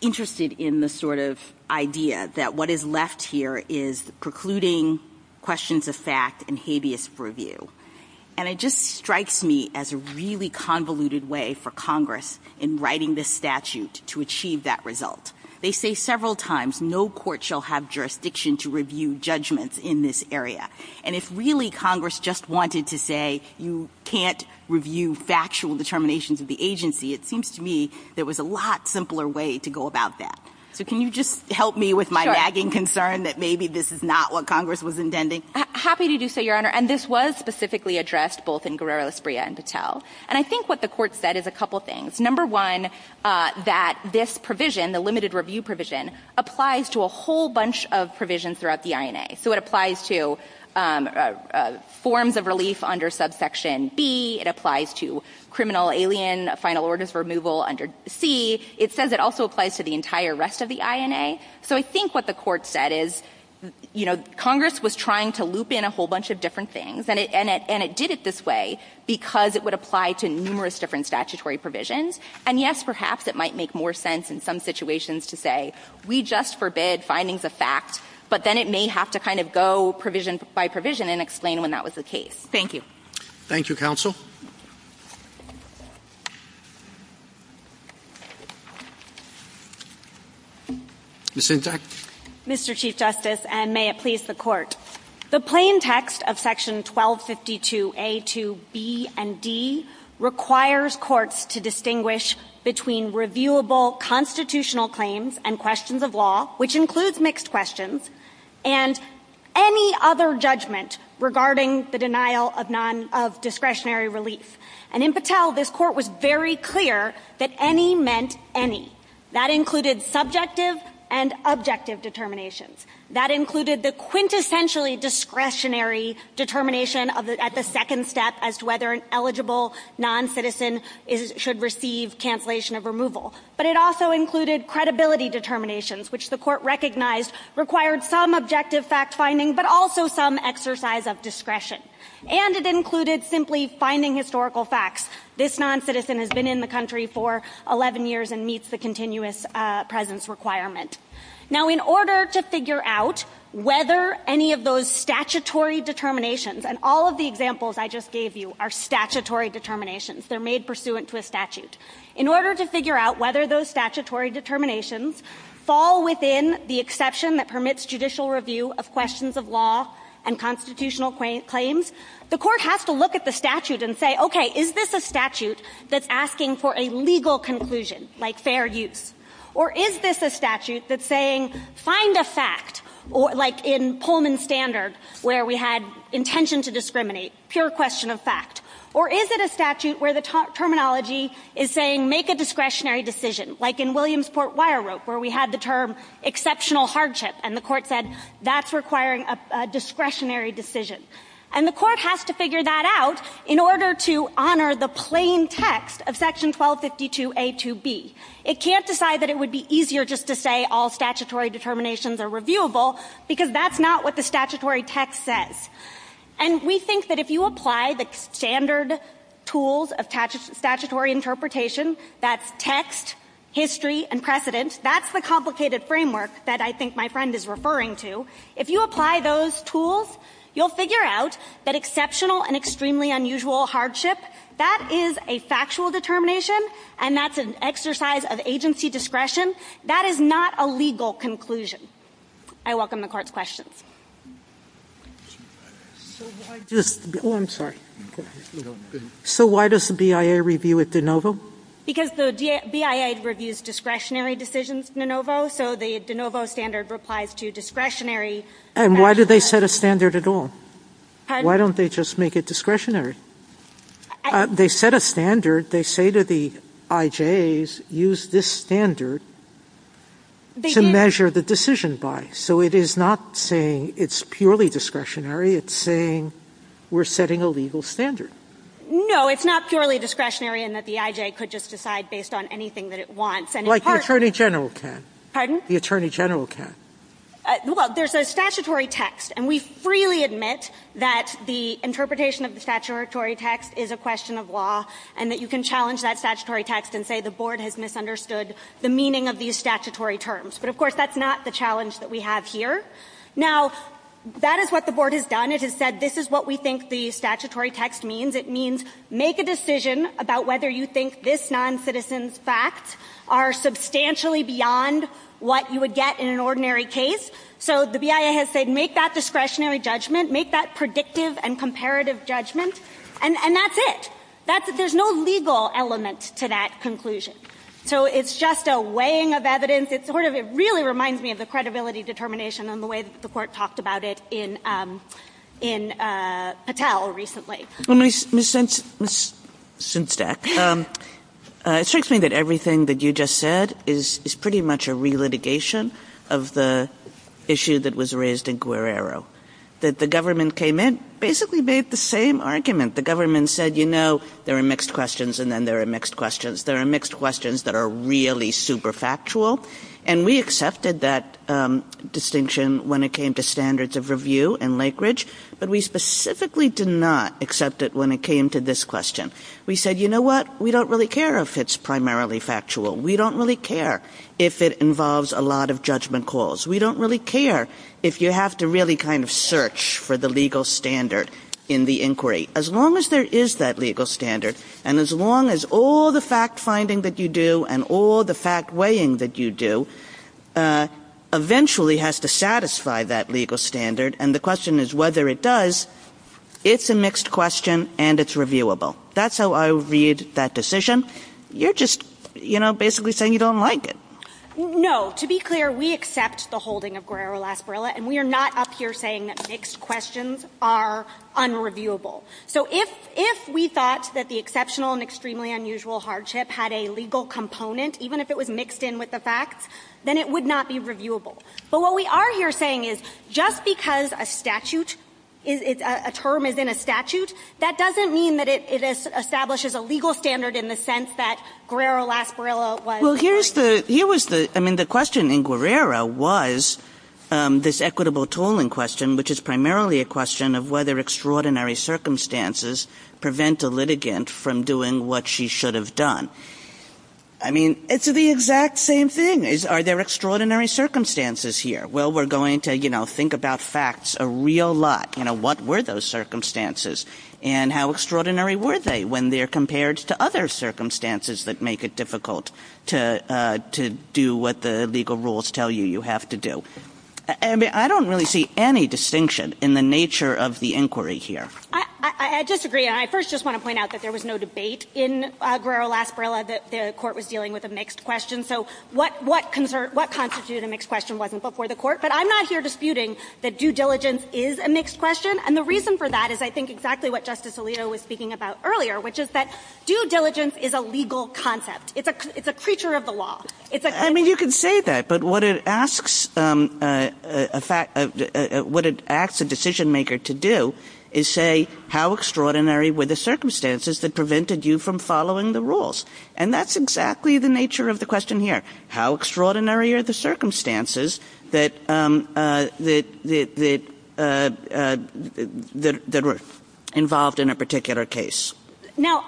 interested in the sort of idea that what is left here is precluding questions of fact and habeas review. And it just strikes me as a really convoluted way for Congress in writing this statute to achieve that result. They say several times no court shall have jurisdiction to review judgments in this area. And if really Congress just wanted to say you can't review factual determinations of the agency, it seems to me there was a lot simpler way to go about that. So can you just help me with my nagging concern that maybe this is not what Congress was intending? Happy to do so, Your Honor. And this was specifically addressed both in Guerrera-Espria and Patel. And I think what the court said is a couple things. Number one, that this provision, the limited review provision, applies to a whole bunch of provisions throughout the INA. So it applies to forms of relief under subsection B. It applies to criminal alien final orders removal under C. It says it also applies to the entire rest of the INA. So I think what the court said is, you know, Congress was trying to loop in a whole bunch of different things. And it did it this way because it would apply to numerous different statutory provisions. And, yes, perhaps it might make more sense in some situations to say we just forbid findings of facts, but then it may have to kind of go provision by provision and explain when that was the case. Thank you. Thank you, counsel. Ms. Hintz. Mr. Chief Justice, and may it please the Court. The plain text of Section 1252A to B and D requires courts to distinguish between reviewable constitutional claims and questions of law, which includes mixed questions, and any other judgment regarding the denial of discretionary relief. And in Patel, this court was very clear that any meant any. That included subjective and objective determinations. That included the quintessentially discretionary determination at the second step as to whether an eligible noncitizen should receive cancellation of removal. But it also included credibility determinations, which the court recognized required some objective fact-finding but also some exercise of discretion. And it included simply finding historical facts. This noncitizen has been in the country for 11 years and meets the continuous presence requirement. Now, in order to figure out whether any of those statutory determinations, and all of the examples I just gave you are statutory determinations. They're made pursuant to a statute. In order to figure out whether those statutory determinations fall within the exception that permits judicial review of questions of law and constitutional claims, the court has to look at the statute and say, okay, is this a statute that's asking for a legal conclusion, like fair use? Or is this a statute that's saying, find a fact, like in Pullman's standard, where we had intention to discriminate, pure question of fact. Or is it a statute where the terminology is saying, make a discretionary decision, like in Williamsport Wire Rope, where we had the term exceptional hardship, and the court said, that's requiring a discretionary decision. And the court has to figure that out in order to honor the plain text of section 1252a to b. It can't decide that it would be easier just to say all statutory determinations are reviewable, because that's not what the statutory text says. And we think that if you apply the standard tools of statutory interpretation, that's text, history, and precedence, that's the complicated framework that I think my friend is referring to. If you apply those tools, you'll figure out that exceptional and extremely unusual hardship, that is a factual determination, and that's an exercise of agency discretion. That is not a legal conclusion. I welcome the court's questions. So why does the BIA review with de novo? Because the BIA reviews discretionary decisions de novo, so the de novo standard replies to discretionary. And why do they set a standard at all? Why don't they just make it discretionary? They set a standard. They say that the IJs use this standard to measure the decision bias. So it is not saying it's purely discretionary. It's saying we're setting a legal standard. No, it's not purely discretionary in that the IJ could just decide based on anything that it wants. Like the Attorney General can. Pardon? The Attorney General can. Well, there's a statutory text, and we freely admit that the interpretation of the statutory text is a question of law and that you can challenge that statutory text and say the board has misunderstood the meaning of these statutory terms. But, of course, that's not the challenge that we have here. Now, that is what the board has done. It has said this is what we think the statutory text means. It means make a decision about whether you think this noncitizen's facts are substantially beyond what you would get in an ordinary case. So the BIA has said make that discretionary judgment, make that predictive and comparative judgment, and that's it. There's no legal element to that conclusion. So it's just a weighing of evidence. It really reminds me of the credibility determination and the way the court talked about it in Patel recently. Ms. Sinsteck, it strikes me that everything that you just said is pretty much a re-litigation of the issue that was raised in Guerrero, that the government came in, basically made the same argument. The government said, you know, there are mixed questions and then there are mixed questions. There are mixed questions that are really super factual, and we accepted that distinction when it came to standards of review in Lake Ridge, but we specifically did not accept it when it came to this question. We said, you know what, we don't really care if it's primarily factual. We don't really care if it involves a lot of judgment calls. We don't really care if you have to really kind of search for the legal standard in the inquiry. As long as there is that legal standard and as long as all the fact-finding that you do and all the fact-weighing that you do eventually has to satisfy that legal standard, and the question is whether it does, it's a mixed question and it's reviewable. That's how I read that decision. You're just, you know, basically saying you don't like it. No. To be clear, we accept the holding of Guerrero-Las Gorillas, and we are not up here saying that mixed questions are unreviewable. So if we thought that the exceptional and extremely unusual hardship had a legal component, even if it was mixed in with the facts, then it would not be reviewable. But what we are here saying is just because a term is in a statute, that doesn't mean that it establishes a legal standard in the sense that Guerrero-Las Gorillas was- I mean, the question in Guerrero was this equitable tooling question, which is primarily a question of whether extraordinary circumstances prevent a litigant from doing what she should have done. I mean, it's the exact same thing. Are there extraordinary circumstances here? Well, we're going to, you know, think about facts a real lot. You know, what were those circumstances, and how extraordinary were they when they're compared to other circumstances that make it difficult to do what the legal rules tell you you have to do? I mean, I don't really see any distinction in the nature of the inquiry here. I disagree, and I first just want to point out that there was no debate in Guerrero-Las Gorillas that the court was dealing with a mixed question. So what constitutes a mixed question wasn't before the court, but I'm not here disputing that due diligence is a mixed question. And the reason for that is, I think, exactly what Justice Alito was speaking about earlier, which is that due diligence is a legal concept. It's a creature of the law. I mean, you can say that, but what it asks a decision-maker to do is say, how extraordinary were the circumstances that prevented you from following the rules? And that's exactly the nature of the question here. How extraordinary are the circumstances that were involved in a particular case? Now,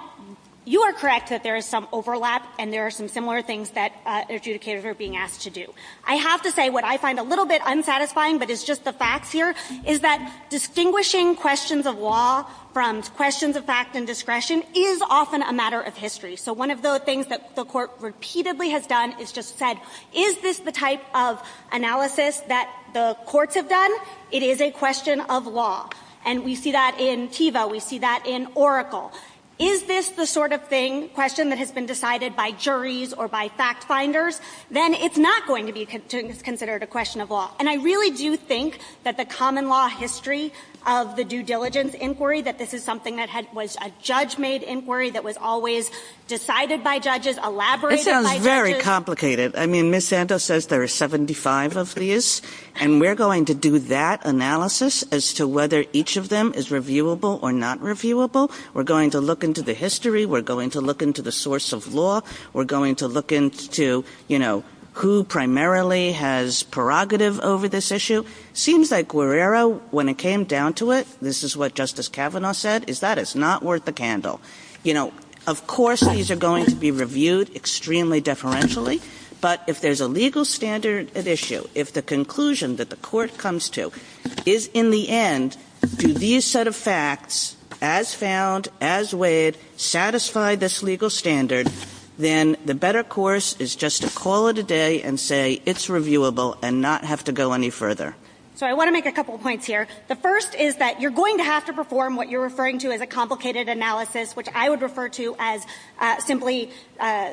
you are correct that there is some overlap, and there are some similar things that adjudicators are being asked to do. I have to say what I find a little bit unsatisfying, but it's just the facts here, is that distinguishing questions of law from questions of facts and discretion is often a matter of history. So one of the things that the court repeatedly has done is just said, is this the type of analysis that the courts have done? It is a question of law. And we see that in TEVA. We see that in Oracle. Is this the sort of thing, question, that has been decided by juries or by fact-finders? Then it's not going to be considered a question of law. And I really do think that the common law history of the due diligence inquiry, that this is something that was a judge-made inquiry that was always decided by judges, elaborated by judges. It sounds very complicated. I mean, Ms. Santos says there are 75 of these, and we're going to do that analysis as to whether each of them is reviewable or not reviewable. We're going to look into the history. We're going to look into the source of law. We're going to look into, you know, who primarily has prerogative over this issue. It seems that Guerrero, when it came down to it, this is what Justice Kavanaugh said, is that it's not worth a candle. You know, of course, these are going to be reviewed extremely deferentially. But if there's a legal standard at issue, if the conclusion that the court comes to is, in the end, do these set of facts, as found, as weighed, satisfy this legal standard, then the better course is just to call it a day and say it's reviewable and not have to go any further. So I want to make a couple of points here. The first is that you're going to have to perform what you're referring to as a complicated analysis, which I would refer to as simply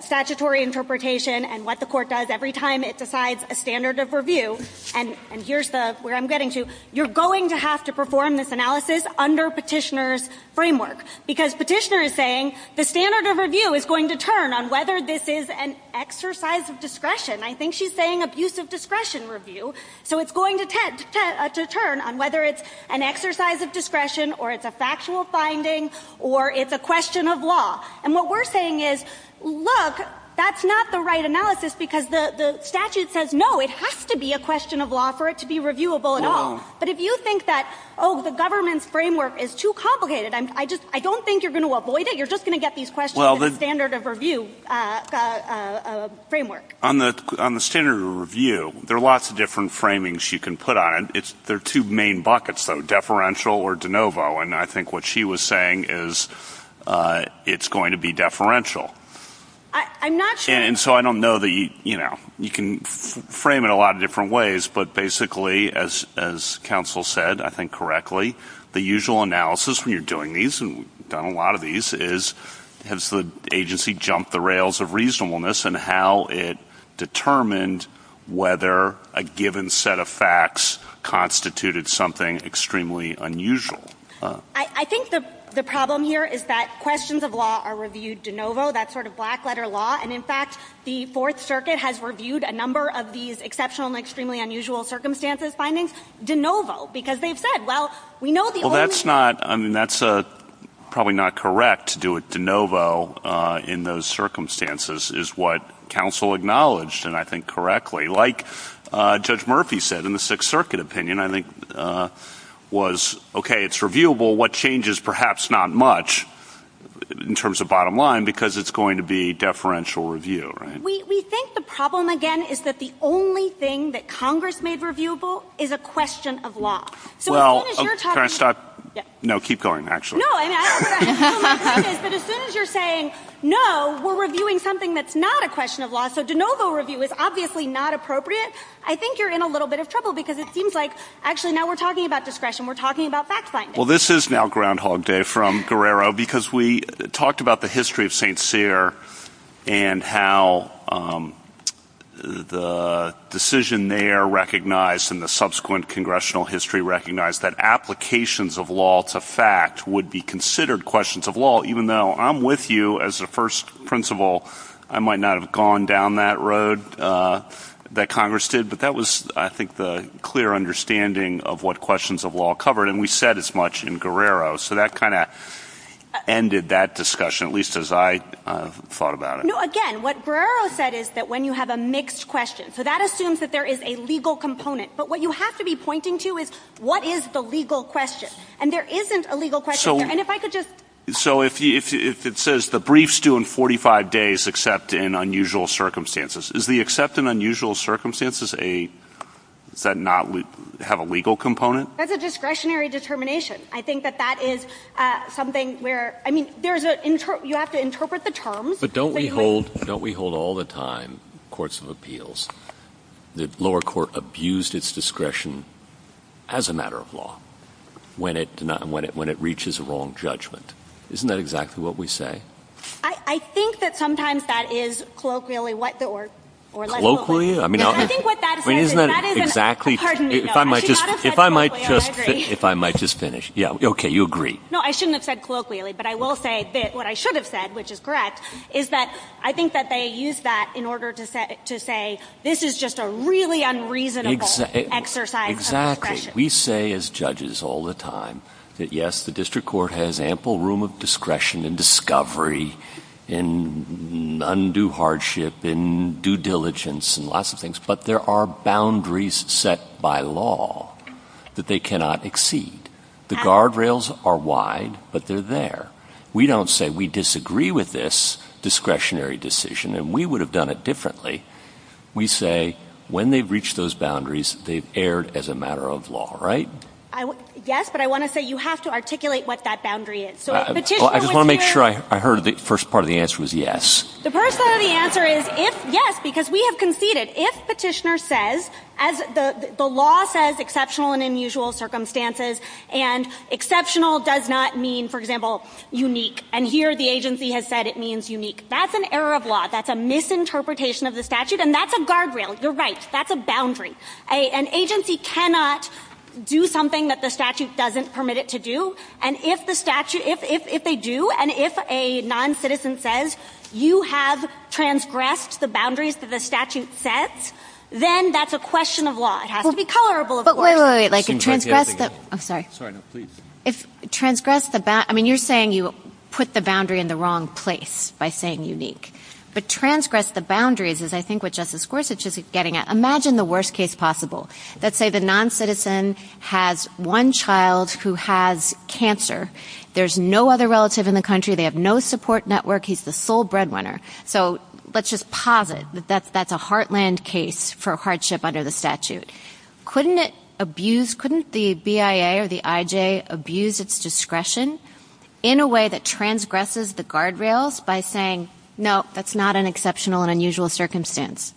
statutory interpretation and what the court does every time it decides a standard of review. And here's where I'm getting to. You're going to have to perform this analysis under Petitioner's framework, because Petitioner is saying the standard of review is going to turn on whether this is an exercise of discretion. I think she's saying abuse of discretion review. So it's going to turn on whether it's an exercise of discretion or it's a factual finding or it's a question of law. And what we're saying is, look, that's not the right analysis, because the statute says, no, it has to be a question of law for it to be reviewable at all. But if you think that, oh, the government's framework is too complicated, I don't think you're going to avoid it. You're just going to get these questions in the standard of review framework. On the standard of review, there are lots of different framings you can put on it. There are two main buckets, though, deferential or de novo, and I think what she was saying is it's going to be deferential. And so I don't know that you can frame it a lot of different ways, but basically, as counsel said, I think correctly, the usual analysis when you're doing these, and we've done a lot of these, is has the agency jumped the rails of reasonableness and how it determined whether a given set of facts constituted something extremely unusual. I think the problem here is that questions of law are reviewed de novo, that sort of black-letter law. And, in fact, the Fourth Circuit has reviewed a number of these exceptional and extremely unusual circumstances findings de novo, because they've said, well, we know the organization... Well, that's not, I mean, that's probably not correct to do it de novo in those circumstances is what counsel acknowledged, and I think correctly, like Judge Murphy said in the Sixth Circuit opinion, I think, was, okay, it's reviewable, what changes perhaps not much in terms of bottom line, because it's going to be deferential review, right? We think the problem, again, is that the only thing that Congress made reviewable is a question of law. So as soon as you're talking... Well, can I stop? No, keep going, actually. No, I mean, as soon as you're saying, no, we're reviewing something that's not a question of law, so de novo review is obviously not appropriate, I think you're in a little bit of trouble, because it seems like, actually, now we're talking about discretion, we're talking about fact-finding. Well, this is now Groundhog Day from Guerrero, because we talked about the history of St. Cyr and how the decision there recognized and the subsequent congressional history recognized that applications of law to fact would be considered questions of law, even though I'm with you as the first principal, I might not have gone down that road that Congress did, but that was, I think, the clear understanding of what questions of law covered, and we said as much in Guerrero, so that kind of ended that discussion, at least as I thought about it. No, again, what Guerrero said is that when you have a mixed question, so that assumes that there is a legal component, but what you have to be pointing to is what is the legal question, and there isn't a legal question there, and if I could just... So if it says the brief's due in 45 days except in unusual circumstances, is the except in unusual circumstances a... does that not have a legal component? That's a discretionary determination. I think that that is something where... I mean, you have to interpret the terms... But don't we hold all the time, courts of appeals, that lower court abused its discretion as a matter of law when it reaches a wrong judgment? Isn't that exactly what we say? I think that sometimes that is colloquially... Colloquially? I mean, isn't that exactly... If I might just finish. Yeah, okay, you agree. No, I shouldn't have said colloquially, but I will say that what I should have said, which is correct, is that I think that they used that in order to say this is just a really unreasonable exercise of discretion. Exactly. We say as judges all the time that, yes, the district court has ample room of discretion and discovery and undue hardship and due diligence and lots of things, but there are boundaries set by law that they cannot exceed. The guardrails are wide, but they're there. We don't say we disagree with this discretionary decision, and we would have done it differently. We say when they've reached those boundaries, they've erred as a matter of law, right? Yes, but I want to say you have to articulate what that boundary is. I just want to make sure I heard the first part of the answer was yes. The first part of the answer is yes, because we have conceded. If Petitioner says, as the law says, exceptional and unusual circumstances, and exceptional does not mean, for example, unique, and here the agency has said it means unique, that's an error of law. That's a misinterpretation of the statute, and that's a guardrail. You're right. That's a boundary. An agency cannot do something that the statute doesn't permit it to do, and if they do, and if a noncitizen says you have transgressed the boundaries that the statute says, then that's a question of law. It has to be colorable of law. But wait, wait, wait. Like, if transgressed the – I'm sorry. Sorry, no, please. If transgressed the – I mean, you're saying you put the boundary in the wrong place by saying unique, but transgressed the boundaries is, I think, what Justice Gorsuch is getting at. Imagine the worst case possible. Let's say the noncitizen has one child who has cancer. There's no other relative in the country. They have no support network. He's the sole breadwinner. So let's just posit that that's a heartland case for hardship under the statute. Couldn't it abuse – couldn't the BIA or the IJ abuse its discretion in a way that transgresses the guardrails by saying, no, that's not an exceptional and unusual circumstance?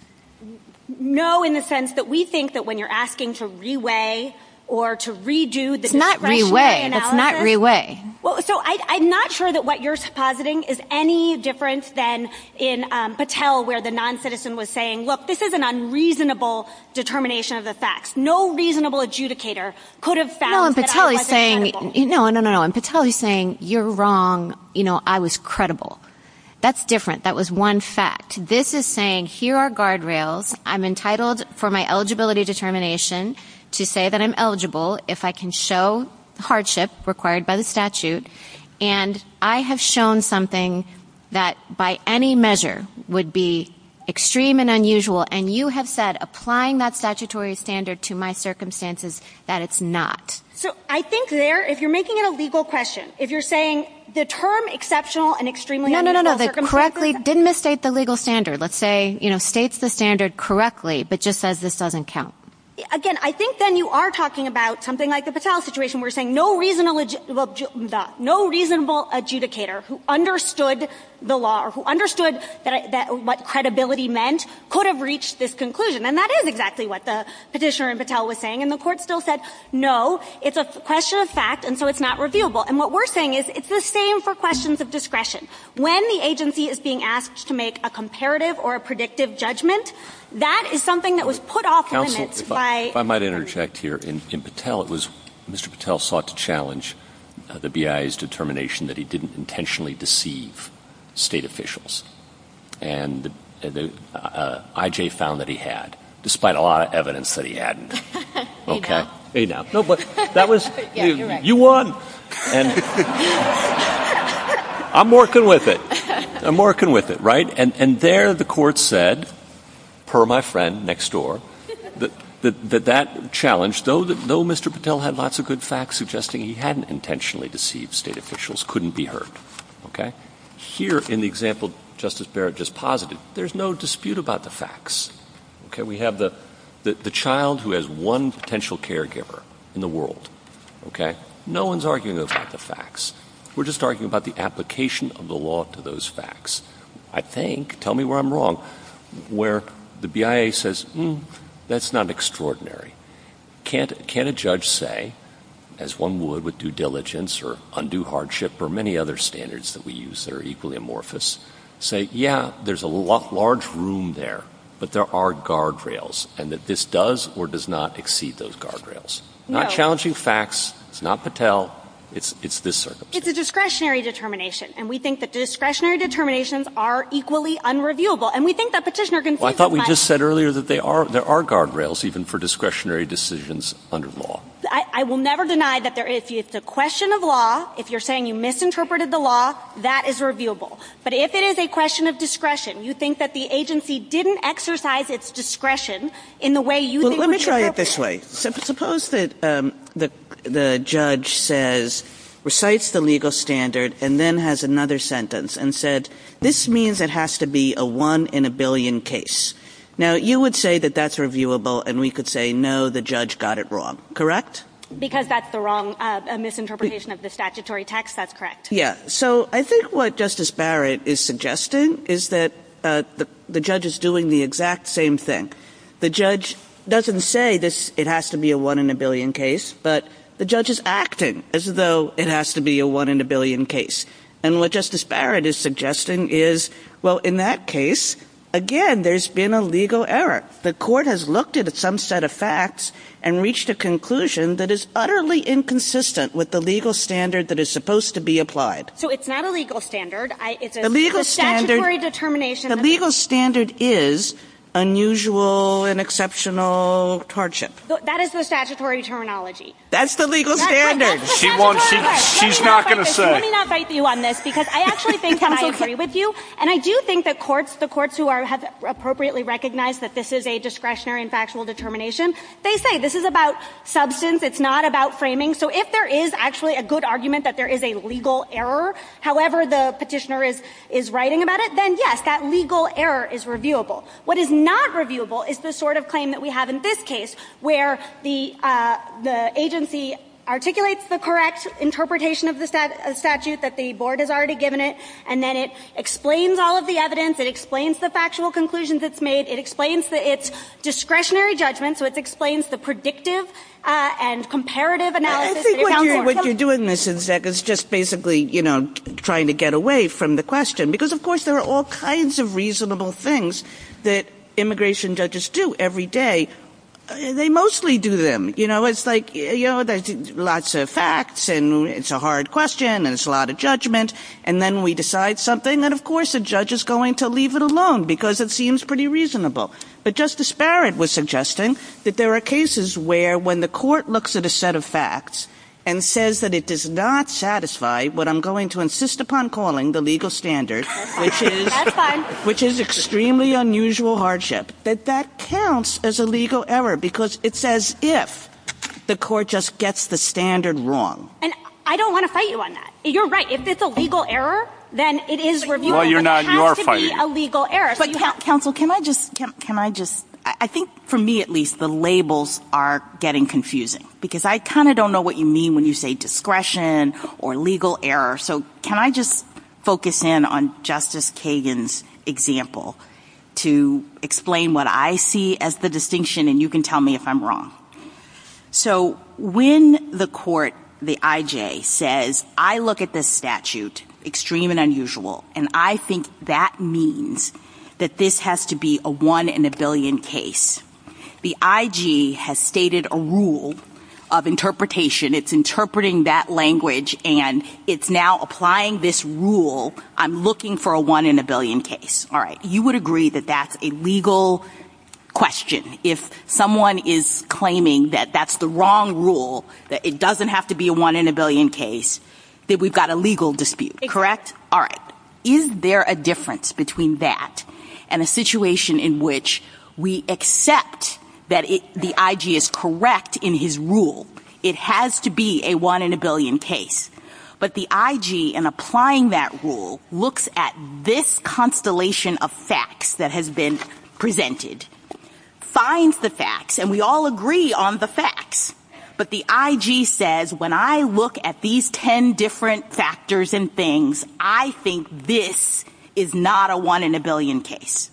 No, in the sense that we think that when you're asking to re-weigh or to redo the discretionary analysis – It's not re-weigh. It's not re-weigh. Well, so I'm not sure that what you're suppositing is any difference than in Patel where the noncitizen was saying, look, this is an unreasonable determination of the facts. No reasonable adjudicator could have found that I wasn't credible. No, in Patel he's saying – no, no, no, no. In Patel he's saying, you're wrong. You know, I was credible. That's different. That was one fact. This is saying, here are guardrails. I'm entitled for my eligibility determination to say that I'm eligible if I can show hardship required by the statute. And I have shown something that by any measure would be extreme and unusual. And you have said, applying that statutory standard to my circumstances, that it's not. So I think there, if you're making it a legal question, if you're saying the term exceptional and extremely unusual circumstances – let's say, you know, states the standard correctly but just says this doesn't count. Again, I think then you are talking about something like the Patel situation where you're saying no reasonable adjudicator who understood the law or who understood what credibility meant could have reached this conclusion. And that is exactly what the petitioner in Patel was saying. And the court still said, no, it's a question of fact and so it's not reviewable. And what we're saying is it's the same for questions of discretion. When the agency is being asked to make a comparative or a predictive judgment, that is something that was put off limits by – Counsel, if I might interject here. In Patel, it was – Mr. Patel sought to challenge the BIA's determination that he didn't intentionally deceive state officials. And the – I.J. found that he had, despite a lot of evidence that he hadn't. Okay. Enough. Enough. No, but that was – you won. I'm working with it. I'm working with it, right? And there the court said, per my friend next door, that that challenge, though Mr. Patel had lots of good facts suggesting he hadn't intentionally deceived state officials, couldn't be heard. Okay. Here in the example Justice Barrett just posited, there's no dispute about the facts. Okay. We have the child who has one potential caregiver in the world. Okay. No one's arguing about the facts. We're just arguing about the application of the law to those facts. I think – tell me where I'm wrong – where the BIA says, hmm, that's not extraordinary. Can't a judge say, as one would with due diligence or undue hardship or many other standards that we use that are equally amorphous, say, yeah, there's a large room there, but there are guardrails, and that this does or does not exceed those guardrails? No. It's challenging facts. It's not Patel. It's this circumstance. It's a discretionary determination. And we think that discretionary determinations are equally unreviewable. And we think that petitioner can – Well, I thought we just said earlier that there are guardrails even for discretionary decisions under law. I will never deny that if it's a question of law, if you're saying you misinterpreted the law, that is reviewable. But if it is a question of discretion, you think that the agency didn't exercise its discretion in the way you – Well, let me try it this way. Suppose that the judge says – recites the legal standard and then has another sentence and said, this means it has to be a one-in-a-billion case. Now, you would say that that's reviewable, and we could say, no, the judge got it wrong, correct? Because that's the wrong – a misinterpretation of the statutory text, that's correct. Yeah. So I think what Justice Barrett is suggesting is that the judge is doing the exact same thing. The judge doesn't say it has to be a one-in-a-billion case, but the judge is acting as though it has to be a one-in-a-billion case. And what Justice Barrett is suggesting is, well, in that case, again, there's been a legal error. The court has looked at some set of facts and reached a conclusion that is utterly inconsistent with the legal standard that is supposed to be applied. So it's not a legal standard. The legal standard – It's a statutory determination. The legal standard is unusual and exceptional hardship. That is the statutory terminology. That's the legal standard. She's not going to say. Let me not bite you on this, because I actually think that I agree with you. And I do think that the courts who have appropriately recognized that this is a discretionary and factual determination, they say this is about substance. It's not about framing. So if there is actually a good argument that there is a legal error, however the petitioner is writing about it, then, yes, that legal error is reviewable. What is not reviewable is the sort of claim that we have in this case, where the agency articulates the correct interpretation of the statute that the board has already given it, and then it explains all of the evidence, it explains the factual conclusions it's made, it explains its discretionary judgment, so it explains the predictive and comparative analysis. What you're doing is just basically trying to get away from the question. Because, of course, there are all kinds of reasonable things that immigration judges do every day. They mostly do them. It's like lots of facts, and it's a hard question, and it's a lot of judgment, and then we decide something, and, of course, the judge is going to leave it alone because it seems pretty reasonable. But Justice Barrett was suggesting that there are cases where, when the court looks at a set of facts and says that it does not satisfy what I'm going to insist upon calling the legal standard, which is extremely unusual hardship, that that counts as a legal error because it says if the court just gets the standard wrong. And I don't want to fight you on that. You're right. If it's a legal error, then it is reviewable. Well, you're not. You're fighting. Counsel, can I just – I think, for me at least, the labels are getting confusing. Because I kind of don't know what you mean when you say discretion or legal error. So can I just focus in on Justice Kagan's example to explain what I see as the distinction, and you can tell me if I'm wrong. So when the court, the IJ, says, I look at this statute, extreme and unusual, and I think that means that this has to be a one-in-a-billion case, the IG has stated a rule of interpretation. It's interpreting that language, and it's now applying this rule, I'm looking for a one-in-a-billion case. All right. You would agree that that's a legal question. If someone is claiming that that's the wrong rule, that it doesn't have to be a one-in-a-billion case, that we've got a legal dispute, correct? All right. Is there a difference between that and a situation in which we accept that the IG is correct in his rule? It has to be a one-in-a-billion case. But the IG, in applying that rule, looks at this constellation of facts that has been presented, finds the facts, and we all agree on the facts. But the IG says, when I look at these ten different factors and things, I think this is not a one-in-a-billion case.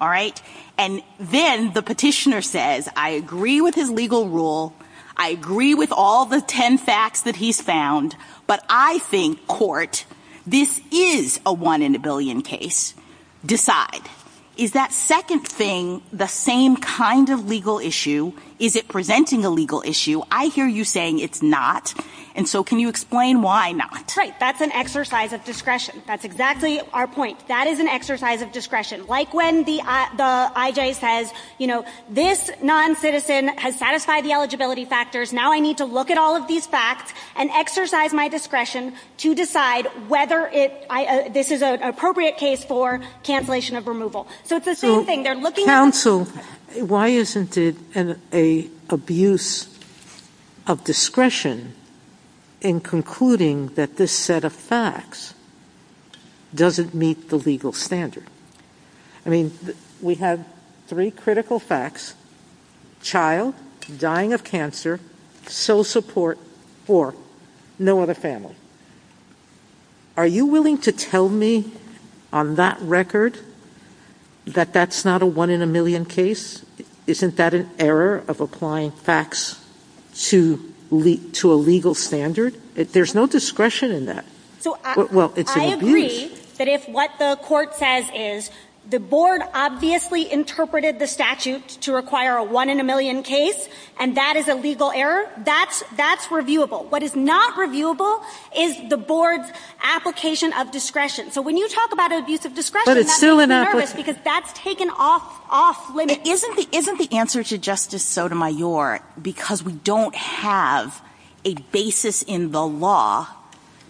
All right. And then the petitioner says, I agree with his legal rule, I agree with all the ten facts that he's found, but I think, court, this is a one-in-a-billion case. Decide. Is that second thing the same kind of legal issue? Is it presenting a legal issue? I hear you saying it's not, and so can you explain why not? Right. That's an exercise of discretion. That's exactly our point. That is an exercise of discretion. Like when the IG says, you know, this noncitizen has satisfied the eligibility factors, now I need to look at all of these facts and exercise my discretion to decide whether this is an appropriate case for cancellation of removal. So it's the same thing. Counsel, why isn't it an abuse of discretion in concluding that this set of facts doesn't meet the legal standard? I mean, we have three critical facts. Child, dying of cancer, sole support for no other family. Are you willing to tell me on that record that that's not a one-in-a-million case? Isn't that an error of applying facts to a legal standard? There's no discretion in that. I agree that if what the court says is the board obviously interpreted the statutes to require a one-in-a-million case and that is a legal error, that's reviewable. What is not reviewable is the board's application of discretion. So when you talk about an abuse of discretion, that's taken off limits. Isn't the answer to Justice Sotomayor because we don't have a basis in the law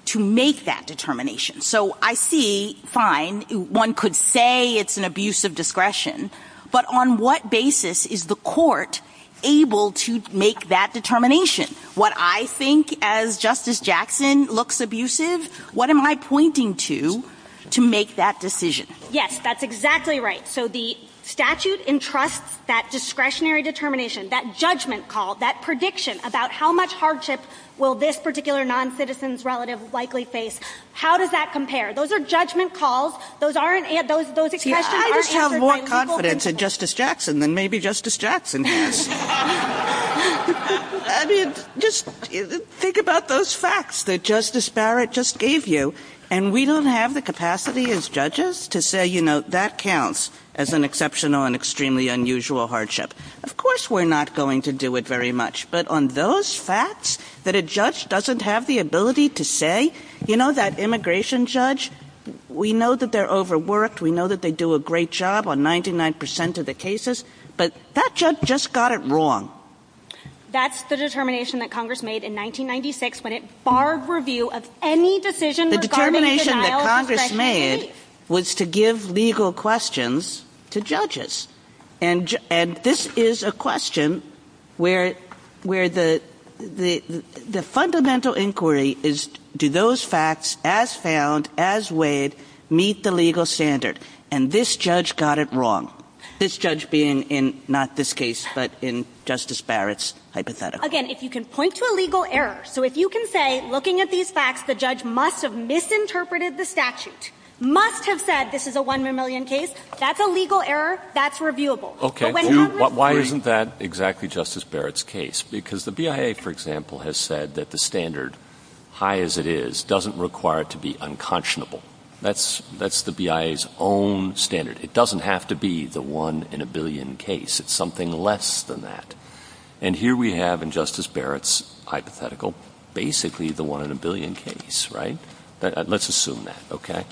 to make that determination? So I see, fine, one could say it's an abuse of discretion, but on what basis is the court able to make that determination? What I think, as Justice Jackson, looks abusive, what am I pointing to to make that decision? Yes, that's exactly right. So the statute entrusts that discretionary determination, that judgment call, that prediction about how much hardship will this particular noncitizen's relative likely face. How does that compare? Those are judgment calls. Those are – those questions are – See, I just have more confidence in Justice Jackson than maybe Justice Jackson does. I mean, just think about those facts that Justice Barrett just gave you. And we don't have the capacity as judges to say, you know, that counts as an exceptional and extremely unusual hardship. Of course we're not going to do it very much, but on those facts that a judge doesn't have the ability to say, you know, that immigration judge, we know that they're overworked. We know that they do a great job on 99 percent of the cases, but that judge just got it wrong. That's the determination that Congress made in 1996 when it barred review of any decision regarding denial of discretion. The determination that Congress made was to give legal questions to judges. And this is a question where the fundamental inquiry is, do those facts as found, as weighed, meet the legal standard? And this judge got it wrong. This judge being in not this case, but in Justice Barrett's hypothetical. Again, if you can point to a legal error. So if you can say, looking at these facts, the judge must have misinterpreted the statute, must have said this is a one in a million case, that's a legal error, that's reviewable. Okay. Why isn't that exactly Justice Barrett's case? Because the BIA, for example, has said that the standard, high as it is, doesn't require it to be unconscionable. That's the BIA's own standard. It doesn't have to be the one in a billion case. It's something less than that. And here we have, in Justice Barrett's hypothetical, basically the one in a billion case, right? Let's assume that, okay?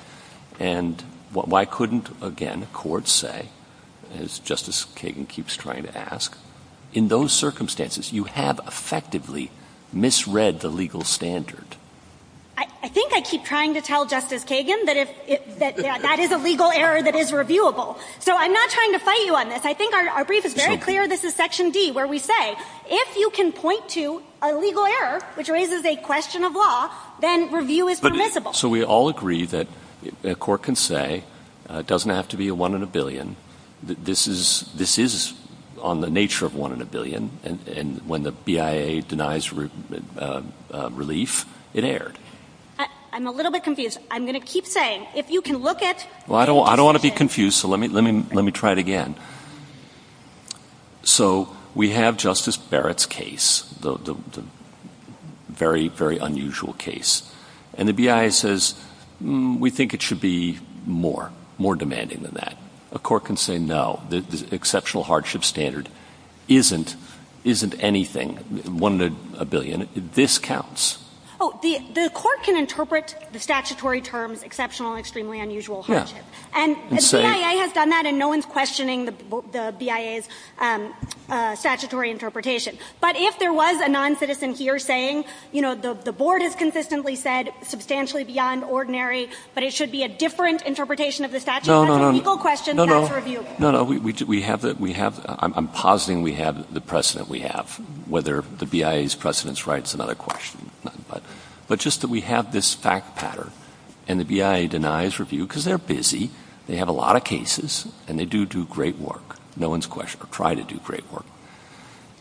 And why couldn't, again, the court say, as Justice Kagan keeps trying to ask, in those circumstances, you have effectively misread the legal standard? I think I keep trying to tell Justice Kagan that that is a legal error that is reviewable. So I'm not trying to fight you on this. I think our brief is very clear. This is Section D, where we say, if you can point to a legal error, which raises a question of law, then review is permissible. So we all agree that a court can say, it doesn't have to be a one in a billion. This is on the nature of one in a billion. And when the BIA denies relief, it erred. I'm a little bit confused. I'm going to keep saying, if you can look at... Well, I don't want to be confused, so let me try it again. So we have Justice Barrett's case, the very, very unusual case. And the BIA says, we think it should be more, more demanding than that. A court can say, no, the exceptional hardship standard isn't anything, one in a billion. This counts. Oh, the court can interpret the statutory terms, exceptional, extremely unusual hardship. And the BIA has done that, and no one's questioning the BIA's statutory interpretation. But if there was a noncitizen here saying, you know, the board has consistently said, substantially beyond ordinary, but it should be a different interpretation of the statute. No, no, no. Equal question, that's reviewable. No, no. I'm positing we have the precedent we have, whether the BIA's precedent's right is another question. But just that we have this fact pattern, and the BIA denies review because they're busy, they have a lot of cases, and they do do great work. No one's questioning, or try to do great work.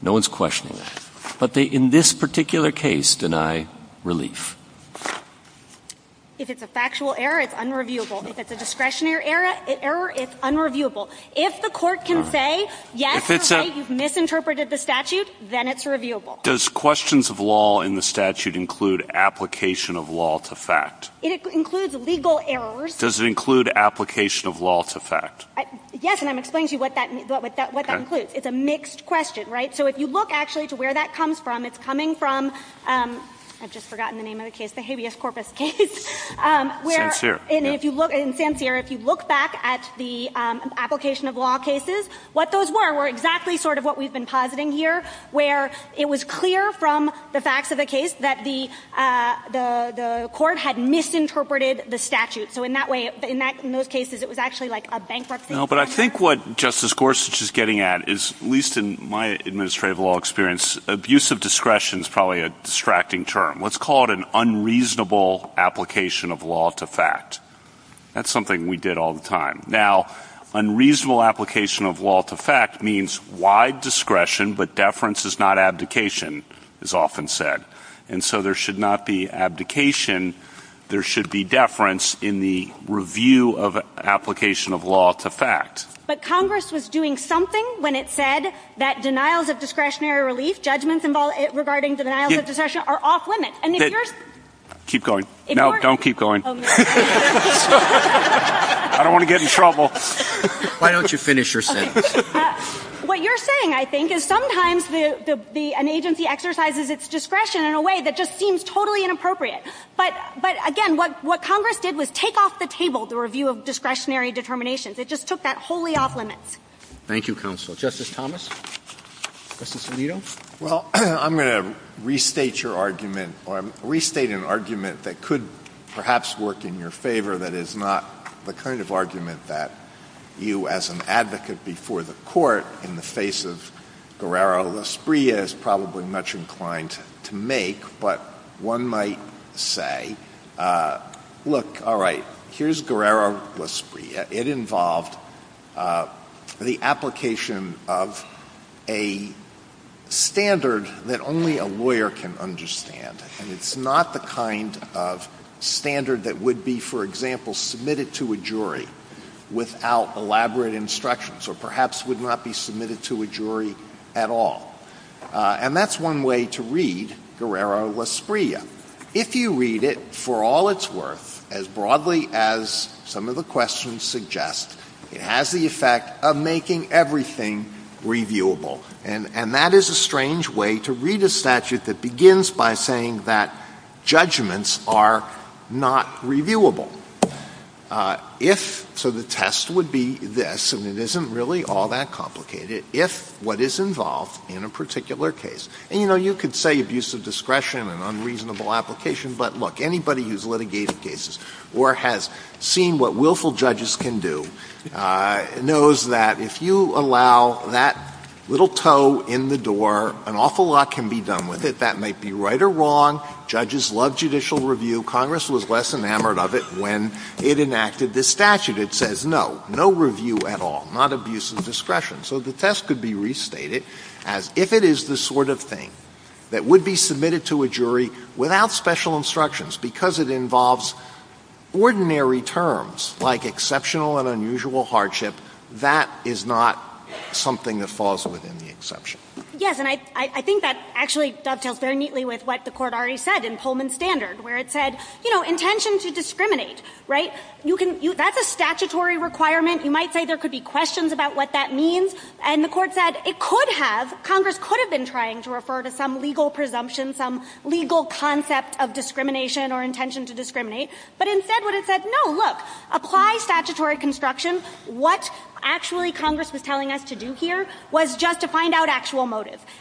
No one's questioning that. But they, in this particular case, deny relief. If it's a factual error, it's unreviewable. If it's a discretionary error, it's unreviewable. If the court can say, yes, your case has misinterpreted the statute, then it's reviewable. Does questions of law in the statute include application of law to fact? It includes legal errors. Does it include application of law to fact? Yes, and I'm explaining to you what that includes. It's a mixed question, right? So if you look actually to where that comes from, it's coming from, I've just forgotten the name of the case, the habeas corpus case. San Sierra. If you look back at the application of law cases, what those were were exactly sort of what we've been positing here, where it was clear from the facts of the case that the court had misinterpreted the statute. So in that way, in those cases, it was actually like a bankruptcy. But I think what Justice Gorsuch is getting at is, at least in my administrative law experience, abusive discretion is probably a distracting term. Let's call it an unreasonable application of law to fact. That's something we did all the time. Now, unreasonable application of law to fact means wide discretion, but deference is not abdication, as often said. And so there should not be abdication. There should be deference in the review of application of law to fact. But Congress was doing something when it said that denials of discretionary release, judgments regarding denials of discretion, are off limits. Keep going. No, don't keep going. I don't want to get in trouble. Why don't you finish your sentence? What you're saying, I think, is sometimes an agency exercises its discretion in a way that just seems totally inappropriate. But, again, what Congress did was take off the table the review of discretionary determinations. It just took that wholly off limits. Thank you, Counsel. Justice Thomas? Justice Alito? Well, I'm going to restate your argument or restate an argument that could perhaps work in your favor that is not the kind of argument that you, as an advocate before the Court in the face of Guerrero-Lasprie, is probably much inclined to make. But one might say, look, all right, here's Guerrero-Lasprie. It involved the application of a standard that only a lawyer can understand, and it's not the kind of standard that would be, for example, submitted to a jury without elaborate instructions or perhaps would not be submitted to a jury at all. And that's one way to read Guerrero-Lasprie. If you read it, for all its worth, as broadly as some of the questions suggest, it has the effect of making everything reviewable. And that is a strange way to read a statute that begins by saying that judgments are not reviewable. So the test would be this, and it isn't really all that complicated. If what is involved in a particular case, and, you know, you could say abusive discretion and unreasonable application, but, look, anybody who's litigated cases or has seen what willful judges can do knows that if you allow that little toe in the door, an awful lot can be done with it. That might be right or wrong. Judges love judicial review. Congress was less enamored of it when it enacted this statute. It says, no, no review at all, not abusive discretion. So the test could be restated as if it is the sort of thing that would be submitted to a jury without special instructions because it involves ordinary terms like exceptional and unusual hardship, that is not something that falls within the exception. Yes, and I think that actually does help very neatly with what the Court already said in Tolman's standard, where it said, you know, intention to discriminate, right? That's a statutory requirement. You might say there could be questions about what that means. And the Court said it could have, Congress could have been trying to refer to some legal presumption, some legal concept of discrimination or intention to discriminate, but instead would have said, no, look, apply statutory construction.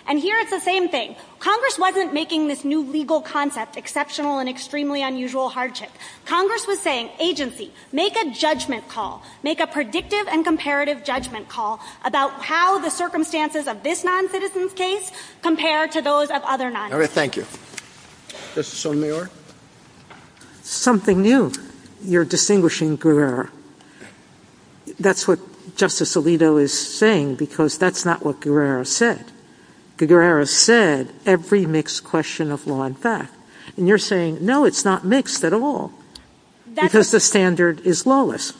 And here is the same thing. Congress wasn't making this new legal concept, exceptional and extremely unusual hardship. Congress was saying, agency, make a judgment call, make a predictive and comparative judgment call about how the circumstances of this noncitizen's case compare to those of other noncitizens. All right. Thank you. Justice Sotomayor? Something new. Your distinguishing career. That's what Justice Alito is saying, because that's not what Guerrero said. Guerrero said every mixed question of law and fact. And you're saying, no, it's not mixed at all, because the standard is lawless.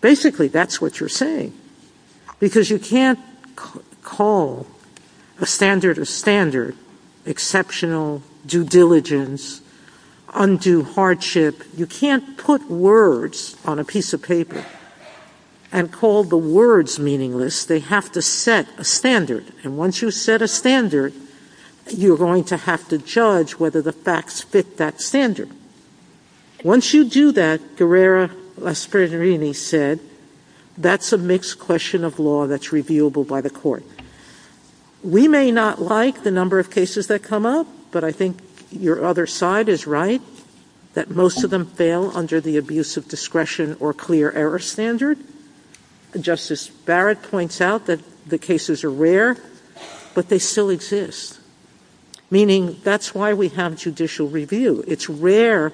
Basically, that's what you're saying. Because you can't call the standard a standard, exceptional, due diligence, undue hardship. You can't put words on a piece of paper and call the words meaningless. They have to set a standard. And once you set a standard, you're going to have to judge whether the facts fit that standard. Once you do that, Guerrero-Sperrini said, that's a mixed question of law that's reviewable by the court. We may not like the number of cases that come up, but I think your other side is right, that most of them fail under the abuse of discretion or clear error standard. Justice Barrett points out that the cases are rare, but they still exist. Meaning, that's why we have judicial review. It's rare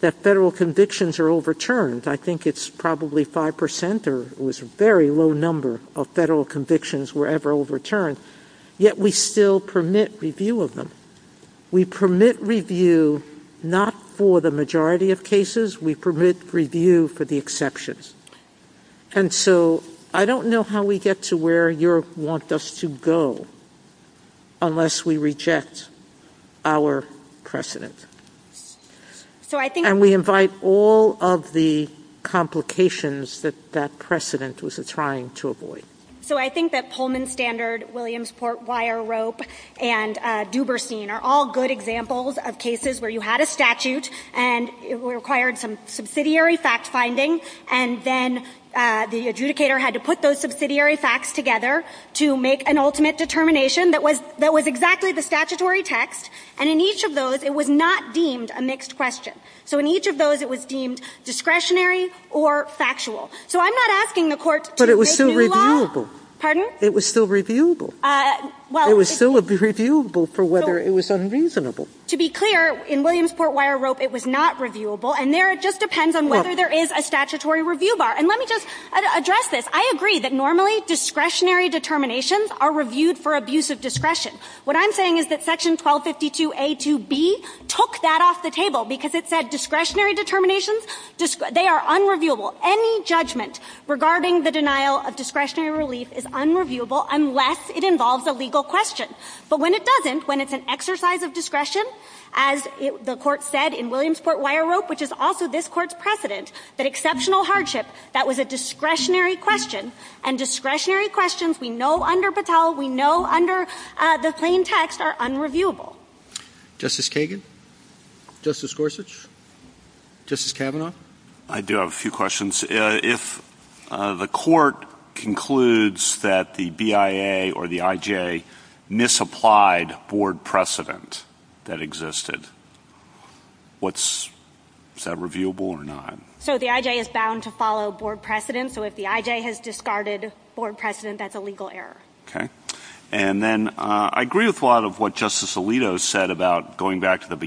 that federal convictions are overturned. I think it's probably 5%, or it was a very low number of federal convictions were ever overturned. Yet we still permit review of them. We permit review not for the majority of cases. We permit review for the exceptions. And so I don't know how we get to where you want us to go unless we reject our precedent. And we invite all of the complications that that precedent was trying to avoid. So I think that Pullman Standard, Williamsport Wire Rope, and Duberstein are all good examples of cases where you had a statute, and it required some subsidiary fact-finding, and then the adjudicator had to put those subsidiary facts together to make an ultimate determination that was exactly the statutory text. And in each of those, it was not deemed a mixed question. So in each of those, it was deemed discretionary or factual. But it was still reviewable. It was still reviewable. It was still reviewable for whether it was unreasonable. To be clear, in Williamsport Wire Rope, it was not reviewable. And there it just depends on whether there is a statutory review bar. And let me just address this. I agree that normally discretionary determinations are reviewed for abuse of discretion. What I'm saying is that Section 1252A2B took that off the table because it said discretionary determinations, they are unreviewable. Any judgment regarding the denial of discretionary relief is unreviewable unless it involves a legal question. But when it doesn't, when it's an exercise of discretion, as the Court said in Williamsport Wire Rope, which is also this Court's precedent, that exceptional hardship, that was a discretionary question, and discretionary questions we know under Patel, we know under the plain text, are unreviewable. Justice Kagan? Justice Gorsuch? Justice Kavanaugh? I do have a few questions. If the Court concludes that the BIA or the IJ misapplied board precedent that existed, is that reviewable or not? So the IJ is bound to follow board precedent. So if the IJ has discarded board precedent, that's a legal error. Okay. And then I agree with a lot of what Justice Alito said about going back to the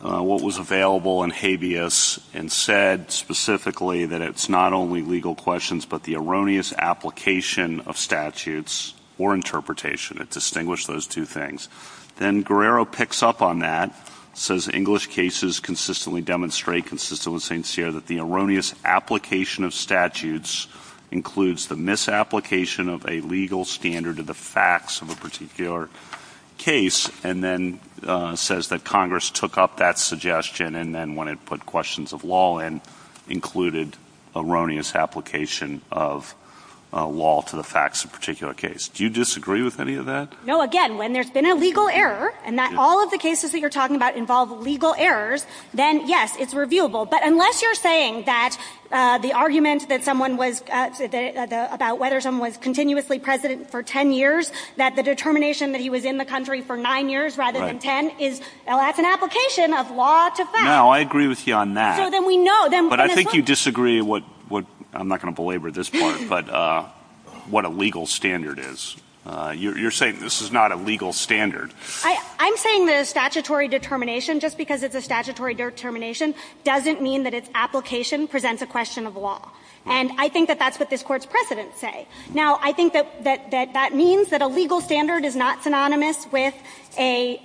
what was available in habeas and said specifically that it's not only legal questions but the erroneous application of statutes or interpretation. It distinguished those two things. Then Guerrero picks up on that, says English cases consistently demonstrate, consistently sincere, that the erroneous application of statutes includes the misapplication of a legal standard of the facts of a particular case, and then says that Congress took up that suggestion and then went and put questions of law and included erroneous application of law to the facts of a particular case. Do you disagree with any of that? No. Again, when there's been a legal error and that all of the cases that you're talking about involve legal errors, then, yes, it's reviewable. But unless you're saying that the argument that someone was about whether someone was continuously president for ten years, that the determination that he was in the country for nine years rather than ten, that's an application of law to facts. No, I agree with you on that. So then we know. But I think you disagree what, I'm not going to belabor this part, but what a legal standard is. You're saying this is not a legal standard. I'm saying that a statutory determination, just because it's a statutory determination, doesn't mean that its application presents a question of law. And I think that that's what this Court's precedents say. Now, I think that that means that a legal standard is not synonymous with a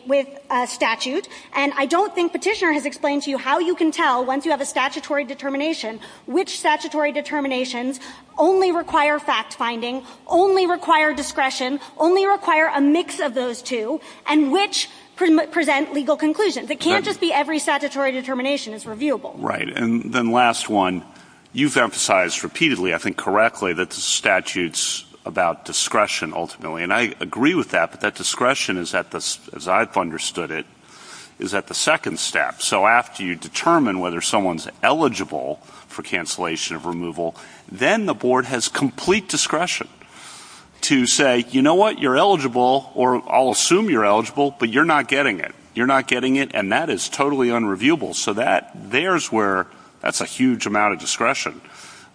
statute. And I don't think Petitioner has explained to you how you can tell, once you have a statutory determination, which statutory determinations only require fact-finding, only require discretion, only require a mix of those two, and which present legal conclusions. It can't just be every statutory determination. It's reviewable. Right. And then the last one, you've emphasized repeatedly, I think correctly, that the statute's about discretion, ultimately. And I agree with that, but that discretion, as I've understood it, is at the second step. So after you determine whether someone's eligible for cancellation of removal, then the Board has complete discretion to say, you know what, you're eligible, or I'll assume you're eligible, but you're not getting it. You're not getting it, and that is totally unreviewable. So that's a huge amount of discretion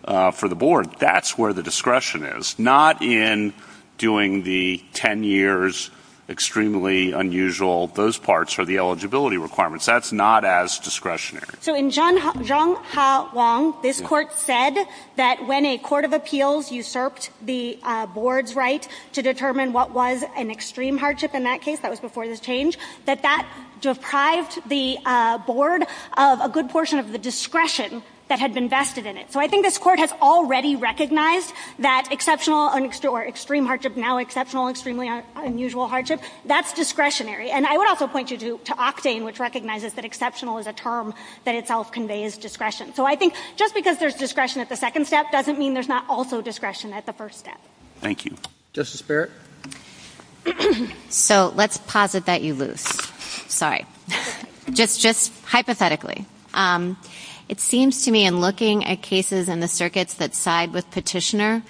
for the Board. That's where the discretion is. Not in doing the 10 years, extremely unusual, those parts for the eligibility requirements. That's not as discretionary. So in Zhang Hao Wang, this court said that when a court of appeals usurped the Board's right to determine what was an extreme hardship in that case, that was discretion that had been vested in it. So I think this court has already recognized that exceptional or extreme hardship, now exceptional, extremely unusual hardship, that's discretionary. And I would also point you to Oxane, which recognizes that exceptional is a term that itself conveys discretion. So I think just because there's discretion at the second step doesn't mean there's not also discretion at the first step. Thank you. Justice Barrett? So let's posit that you lose. Sorry. Just hypothetically, it seems to me in looking at cases in the circuits that side with Petitioner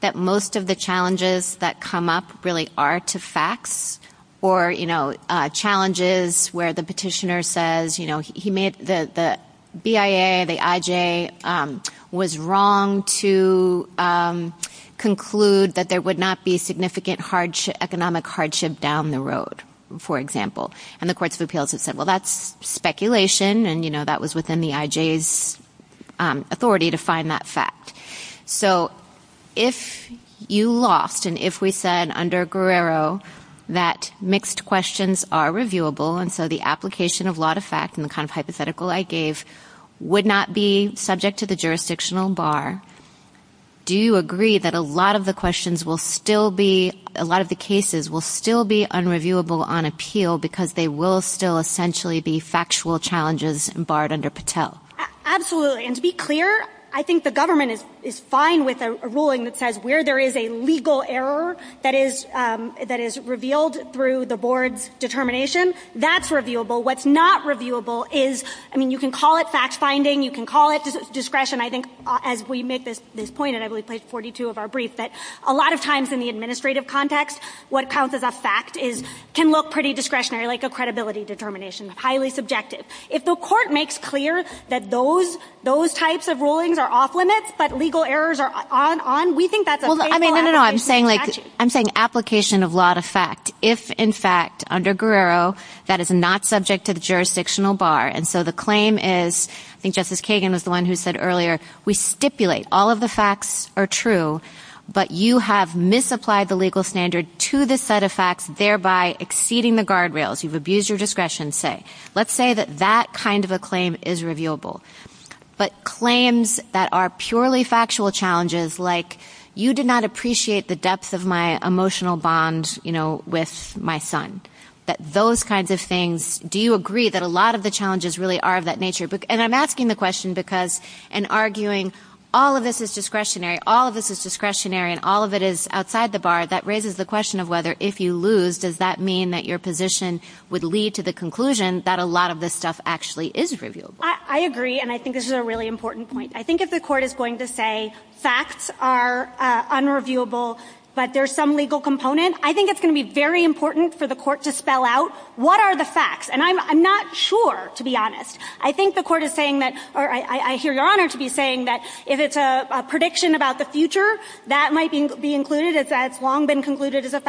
that most of the challenges that come up really are to facts or, you know, challenges where the Petitioner says, you know, he made the BIA, the IJ, was wrong to conclude that there would not be significant economic hardship down the road, for example. And the courts of appeals have said, well, that's speculation and, you know, that was within the IJ's authority to find that fact. So if you lost and if we said under Guerrero that mixed questions are reviewable and so the application of law to fact and the kind of hypothetical I gave would not be subject to the jurisdictional bar, do you agree that a lot of the questions will still be, a lot of the cases will still be unreviewable on Petitioner because they will still essentially be factual challenges barred under Patel? Absolutely. And to be clear, I think the government is fine with a ruling that says where there is a legal error that is revealed through the board determination, that's reviewable. What's not reviewable is, I mean, you can call it fact finding, you can call it discretion. I think as we make this point, and I believe we placed 42 of our briefs, that a lot of times in the administrative context what counts as a fact can look pretty discretionary like a credibility determination. It's highly subjective. If the court makes clear that those types of rulings are off limits but legal errors are on, we think that's a factual action. I'm saying application of law to fact. If in fact under Guerrero that is not subject to the jurisdictional bar and so the claim is, I think Justice Kagan was the one who said earlier, we stipulate all of the facts are true but you have misapplied the legal standard to the set of facts, thereby exceeding the guardrails. You've abused your discretion, say. Let's say that that kind of a claim is reviewable. But claims that are purely factual challenges like you did not appreciate the depth of my emotional bond, you know, with my son, that those kinds of things, do you agree that a lot of the challenges really are of that nature? And I'm asking the question because in arguing all of this is discretionary, all of this is discretionary and all of it is outside the bar, that raises the question, if you lose, does that mean that your position would lead to the conclusion that a lot of this stuff actually is reviewable? I agree and I think this is a really important point. I think if the court is going to say facts are unreviewable but there's some legal component, I think it's going to be very important for the court to spell out what are the facts. And I'm not sure, to be honest. I think the court is saying that, or I hear Your Honor to be saying that if it's a prediction about the future, that might be included as long been concluded as a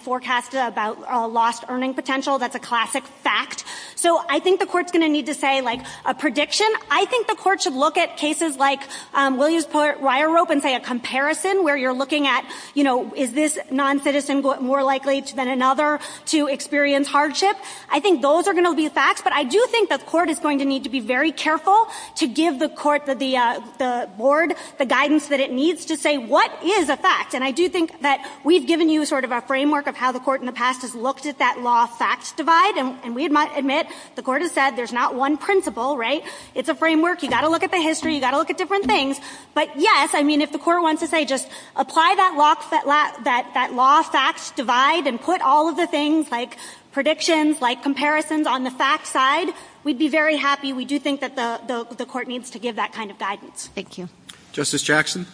forecast about lost earning potential, that's a classic fact. So I think the court is going to need to say, like, a prediction. I think the court should look at cases like Williamsport wire rope and say a comparison where you're looking at, you know, is this noncitizen more likely than another to experience hardship? I think those are going to be facts. But I do think the court is going to need to be very careful to give the court, the board, the guidance that it needs to say what is a fact. And I do think that we've given you sort of a framework of how the court in the past has looked at that lost facts divide. And we must admit, the court has said there's not one principle, right? It's a framework. You've got to look at the history. You've got to look at different things. But, yes, I mean, if the court wants to say just apply that lost facts divide and put all of the things like predictions, like comparisons on the facts side, we'd be very happy. We do think that the court needs to give that kind of guidance. Thank you. Justice Jackson?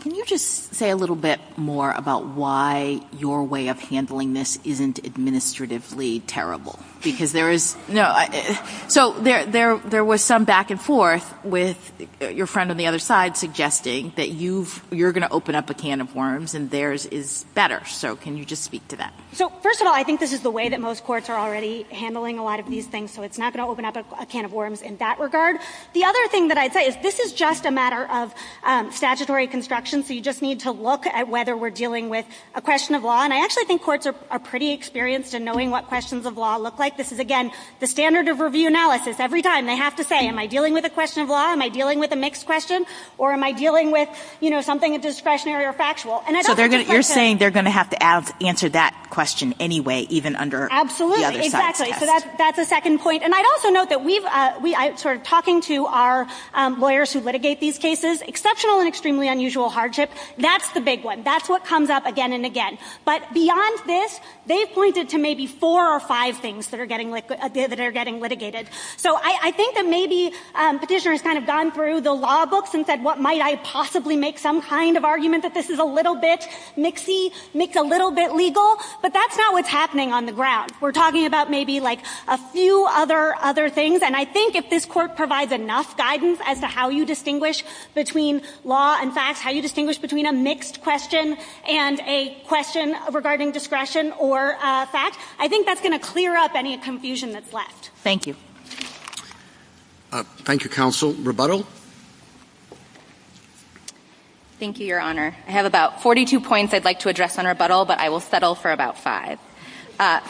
Can you just say a little bit more about why your way of handling this isn't administratively terrible? Because there is no – so there was some back and forth with your friend on the other side suggesting that you're going to open up a can of worms and theirs is better. So can you just speak to that? So, first of all, I think this is the way that most courts are already handling a lot of these things. So it's not going to open up a can of worms in that regard. The other thing that I'd say is this is just a matter of statutory construction. So you just need to look at whether we're dealing with a question of law. And I actually think courts are pretty experienced in knowing what questions of law look like. This is, again, the standard of review analysis. Every time they have to say, am I dealing with a question of law? Am I dealing with a mixed question? Or am I dealing with, you know, something that's discretionary or factual? So you're saying they're going to have to answer that question anyway, even under – Absolutely. Exactly. So that's a second point. And I'd also note that we've – sort of talking to our lawyers who litigate these cases, exceptional and extremely unusual hardship, that's the big one. That's what comes up again and again. But beyond this, they've pointed to maybe four or five things that are getting – that are getting litigated. So I think that maybe Petitioner has kind of gone through the law books and said, what, might I possibly make some kind of argument that this is a little bit mixy, a little bit legal? But that's not what's happening on the ground. We're talking about maybe, like, a few other things. And I think if this court provides enough guidance as to how you distinguish between law and fact, how you distinguish between a mixed question and a question regarding discretion or fact, I think that's going to clear up any confusion that's left. Thank you. Thank you, Counsel. Rebuttal? Thank you, Your Honor. I have about 42 points I'd like to address on rebuttal, but I will settle for about five.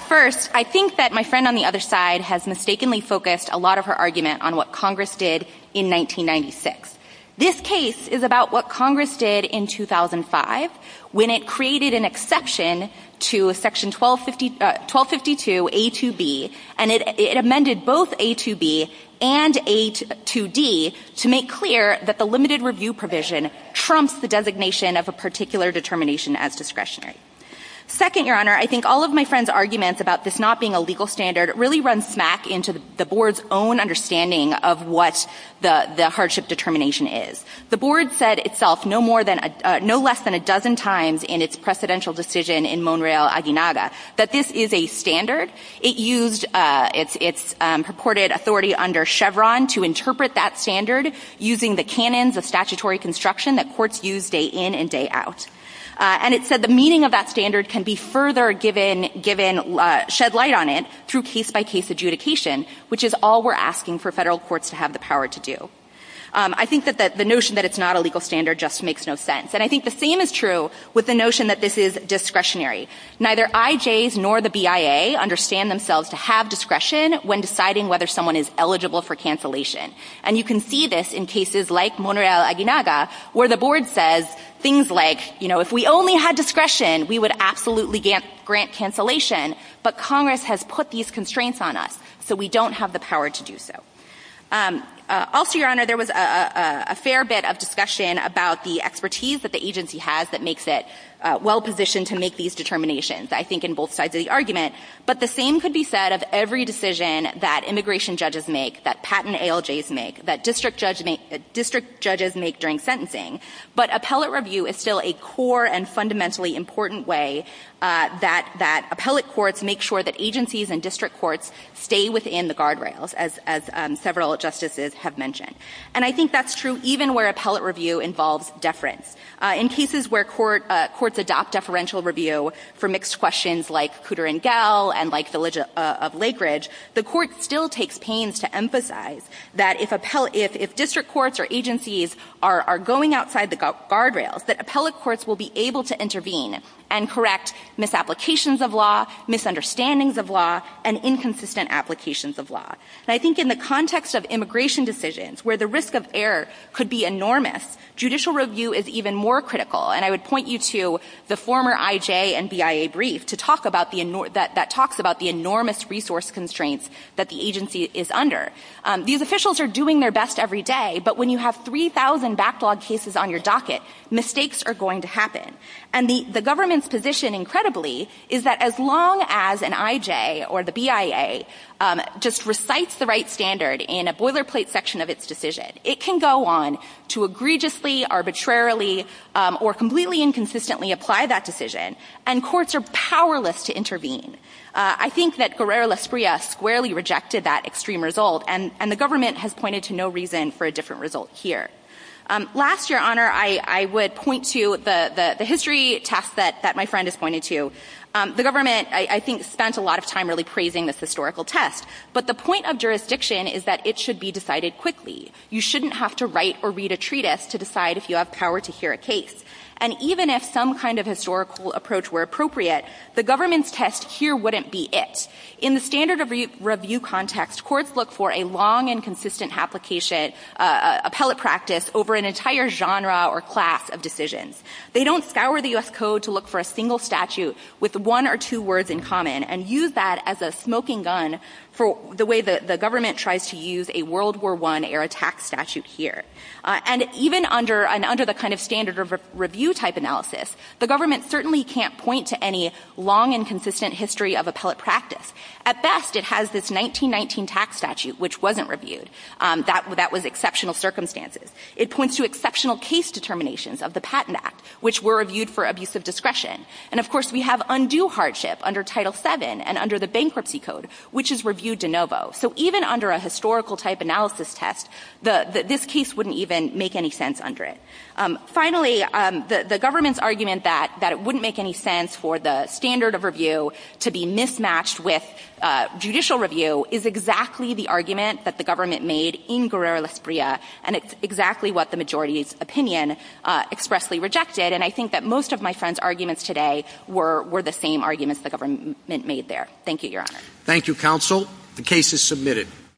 First, I think that my friend on the other side has mistakenly focused a lot of her argument on what Congress did in 1996. This case is about what Congress did in 2005 when it created an exception to Section 1252 A2B, and it amended both A2B and A2D to make clear that the limited review provision trumps the designation of a particular determination as discretionary. Second, Your Honor, I think all of my friend's arguments about this not being a legal standard really run smack into the Board's own understanding of what the hardship determination is. The Board said itself no less than a dozen times in its precedential decision in Monreal-Aguinada that this is a standard. It used its purported authority under Chevron to interpret that standard using the canons of statutory construction that courts use day in and day out. And it said the meaning of that standard can be further given shed light on it through case-by-case adjudication, which is all we're asking for federal courts to have the power to do. I think that the notion that it's not a legal standard just makes no sense. And I think the same is true with the notion that this is discretionary. Neither IJs nor the BIA understand themselves to have discretion when deciding whether someone is eligible for cancellation. And you can see this in cases like Monreal-Aguinada where the Board says things like, you know, if we only had discretion, we would absolutely grant cancellation. But Congress has put these constraints on us, so we don't have the power to do so. Also, Your Honor, there was a fair bit of discussion about the expertise that the agency has that makes it well-positioned to make these determinations, I think, in both sides of the argument. But the same could be said of every decision that immigration judges make, that patent ALJs make, that district judges make during sentencing. But appellate review is still a core and fundamentally important way that appellate courts make sure that agencies and district courts stay within the guardrails, as several justices have mentioned. And I think that's true even where appellate review involves deference. In cases where courts adopt deferential review for mixed questions like Cooter and Gell and like Village of Lake Ridge, the court still takes pains to make sure that, outside the guardrails, that appellate courts will be able to intervene and correct misapplications of law, misunderstandings of law, and inconsistent applications of law. And I think in the context of immigration decisions, where the risk of error could be enormous, judicial review is even more critical. And I would point you to the former IJ and BIA brief that talks about the enormous resource constraints that the agency is under. These officials are doing their best every day, but when you have 3,000 backlog cases on your docket, mistakes are going to happen. And the government's position, incredibly, is that as long as an IJ or the BIA just recites the right standard in a boilerplate section of its decision, it can go on to egregiously, arbitrarily, or completely inconsistently apply that decision, and courts are powerless to intervene. I think that Guerrero-Lasprilla squarely rejected that extreme result, and the government has pointed to no reason for a different result here. Last, Your Honor, I would point to the history test that my friend has pointed to. The government, I think, spent a lot of time really praising this historical test, but the point of jurisdiction is that it should be decided quickly. You shouldn't have to write or read a treatise to decide if you have power to hear a case. And even if some kind of historical approach were appropriate, the government's test here wouldn't be it. In the standard of review context, courts look for a long and consistent application, appellate practice, over an entire genre or class of decisions. They don't scour the U.S. Code to look for a single statute with one or two words in common and use that as a smoking gun for the way the government tries to use a World War I-era tax statute here. And even under the kind of standard of review type analysis, the government certainly can't point to any long and consistent history of appellate practice. At best, it has this 1919 tax statute, which wasn't reviewed. That was exceptional circumstances. It points to exceptional case determinations of the Patent Act, which were reviewed for abusive discretion. And, of course, we have undue hardship under Title VII and under the Bankruptcy Code, which is reviewed de novo. So even under a historical type analysis test, this case wouldn't even make any sense under it. Finally, the government's argument that it wouldn't make any sense for the standard of review to be mismatched with judicial review is exactly the argument that the government made in Guerrero, Lesbria, and it's exactly what the majority's opinion expressly rejected. And I think that most of my friend's arguments today were the same arguments the government made there. Thank you, Your Honor. Thank you, Counsel. The case is submitted.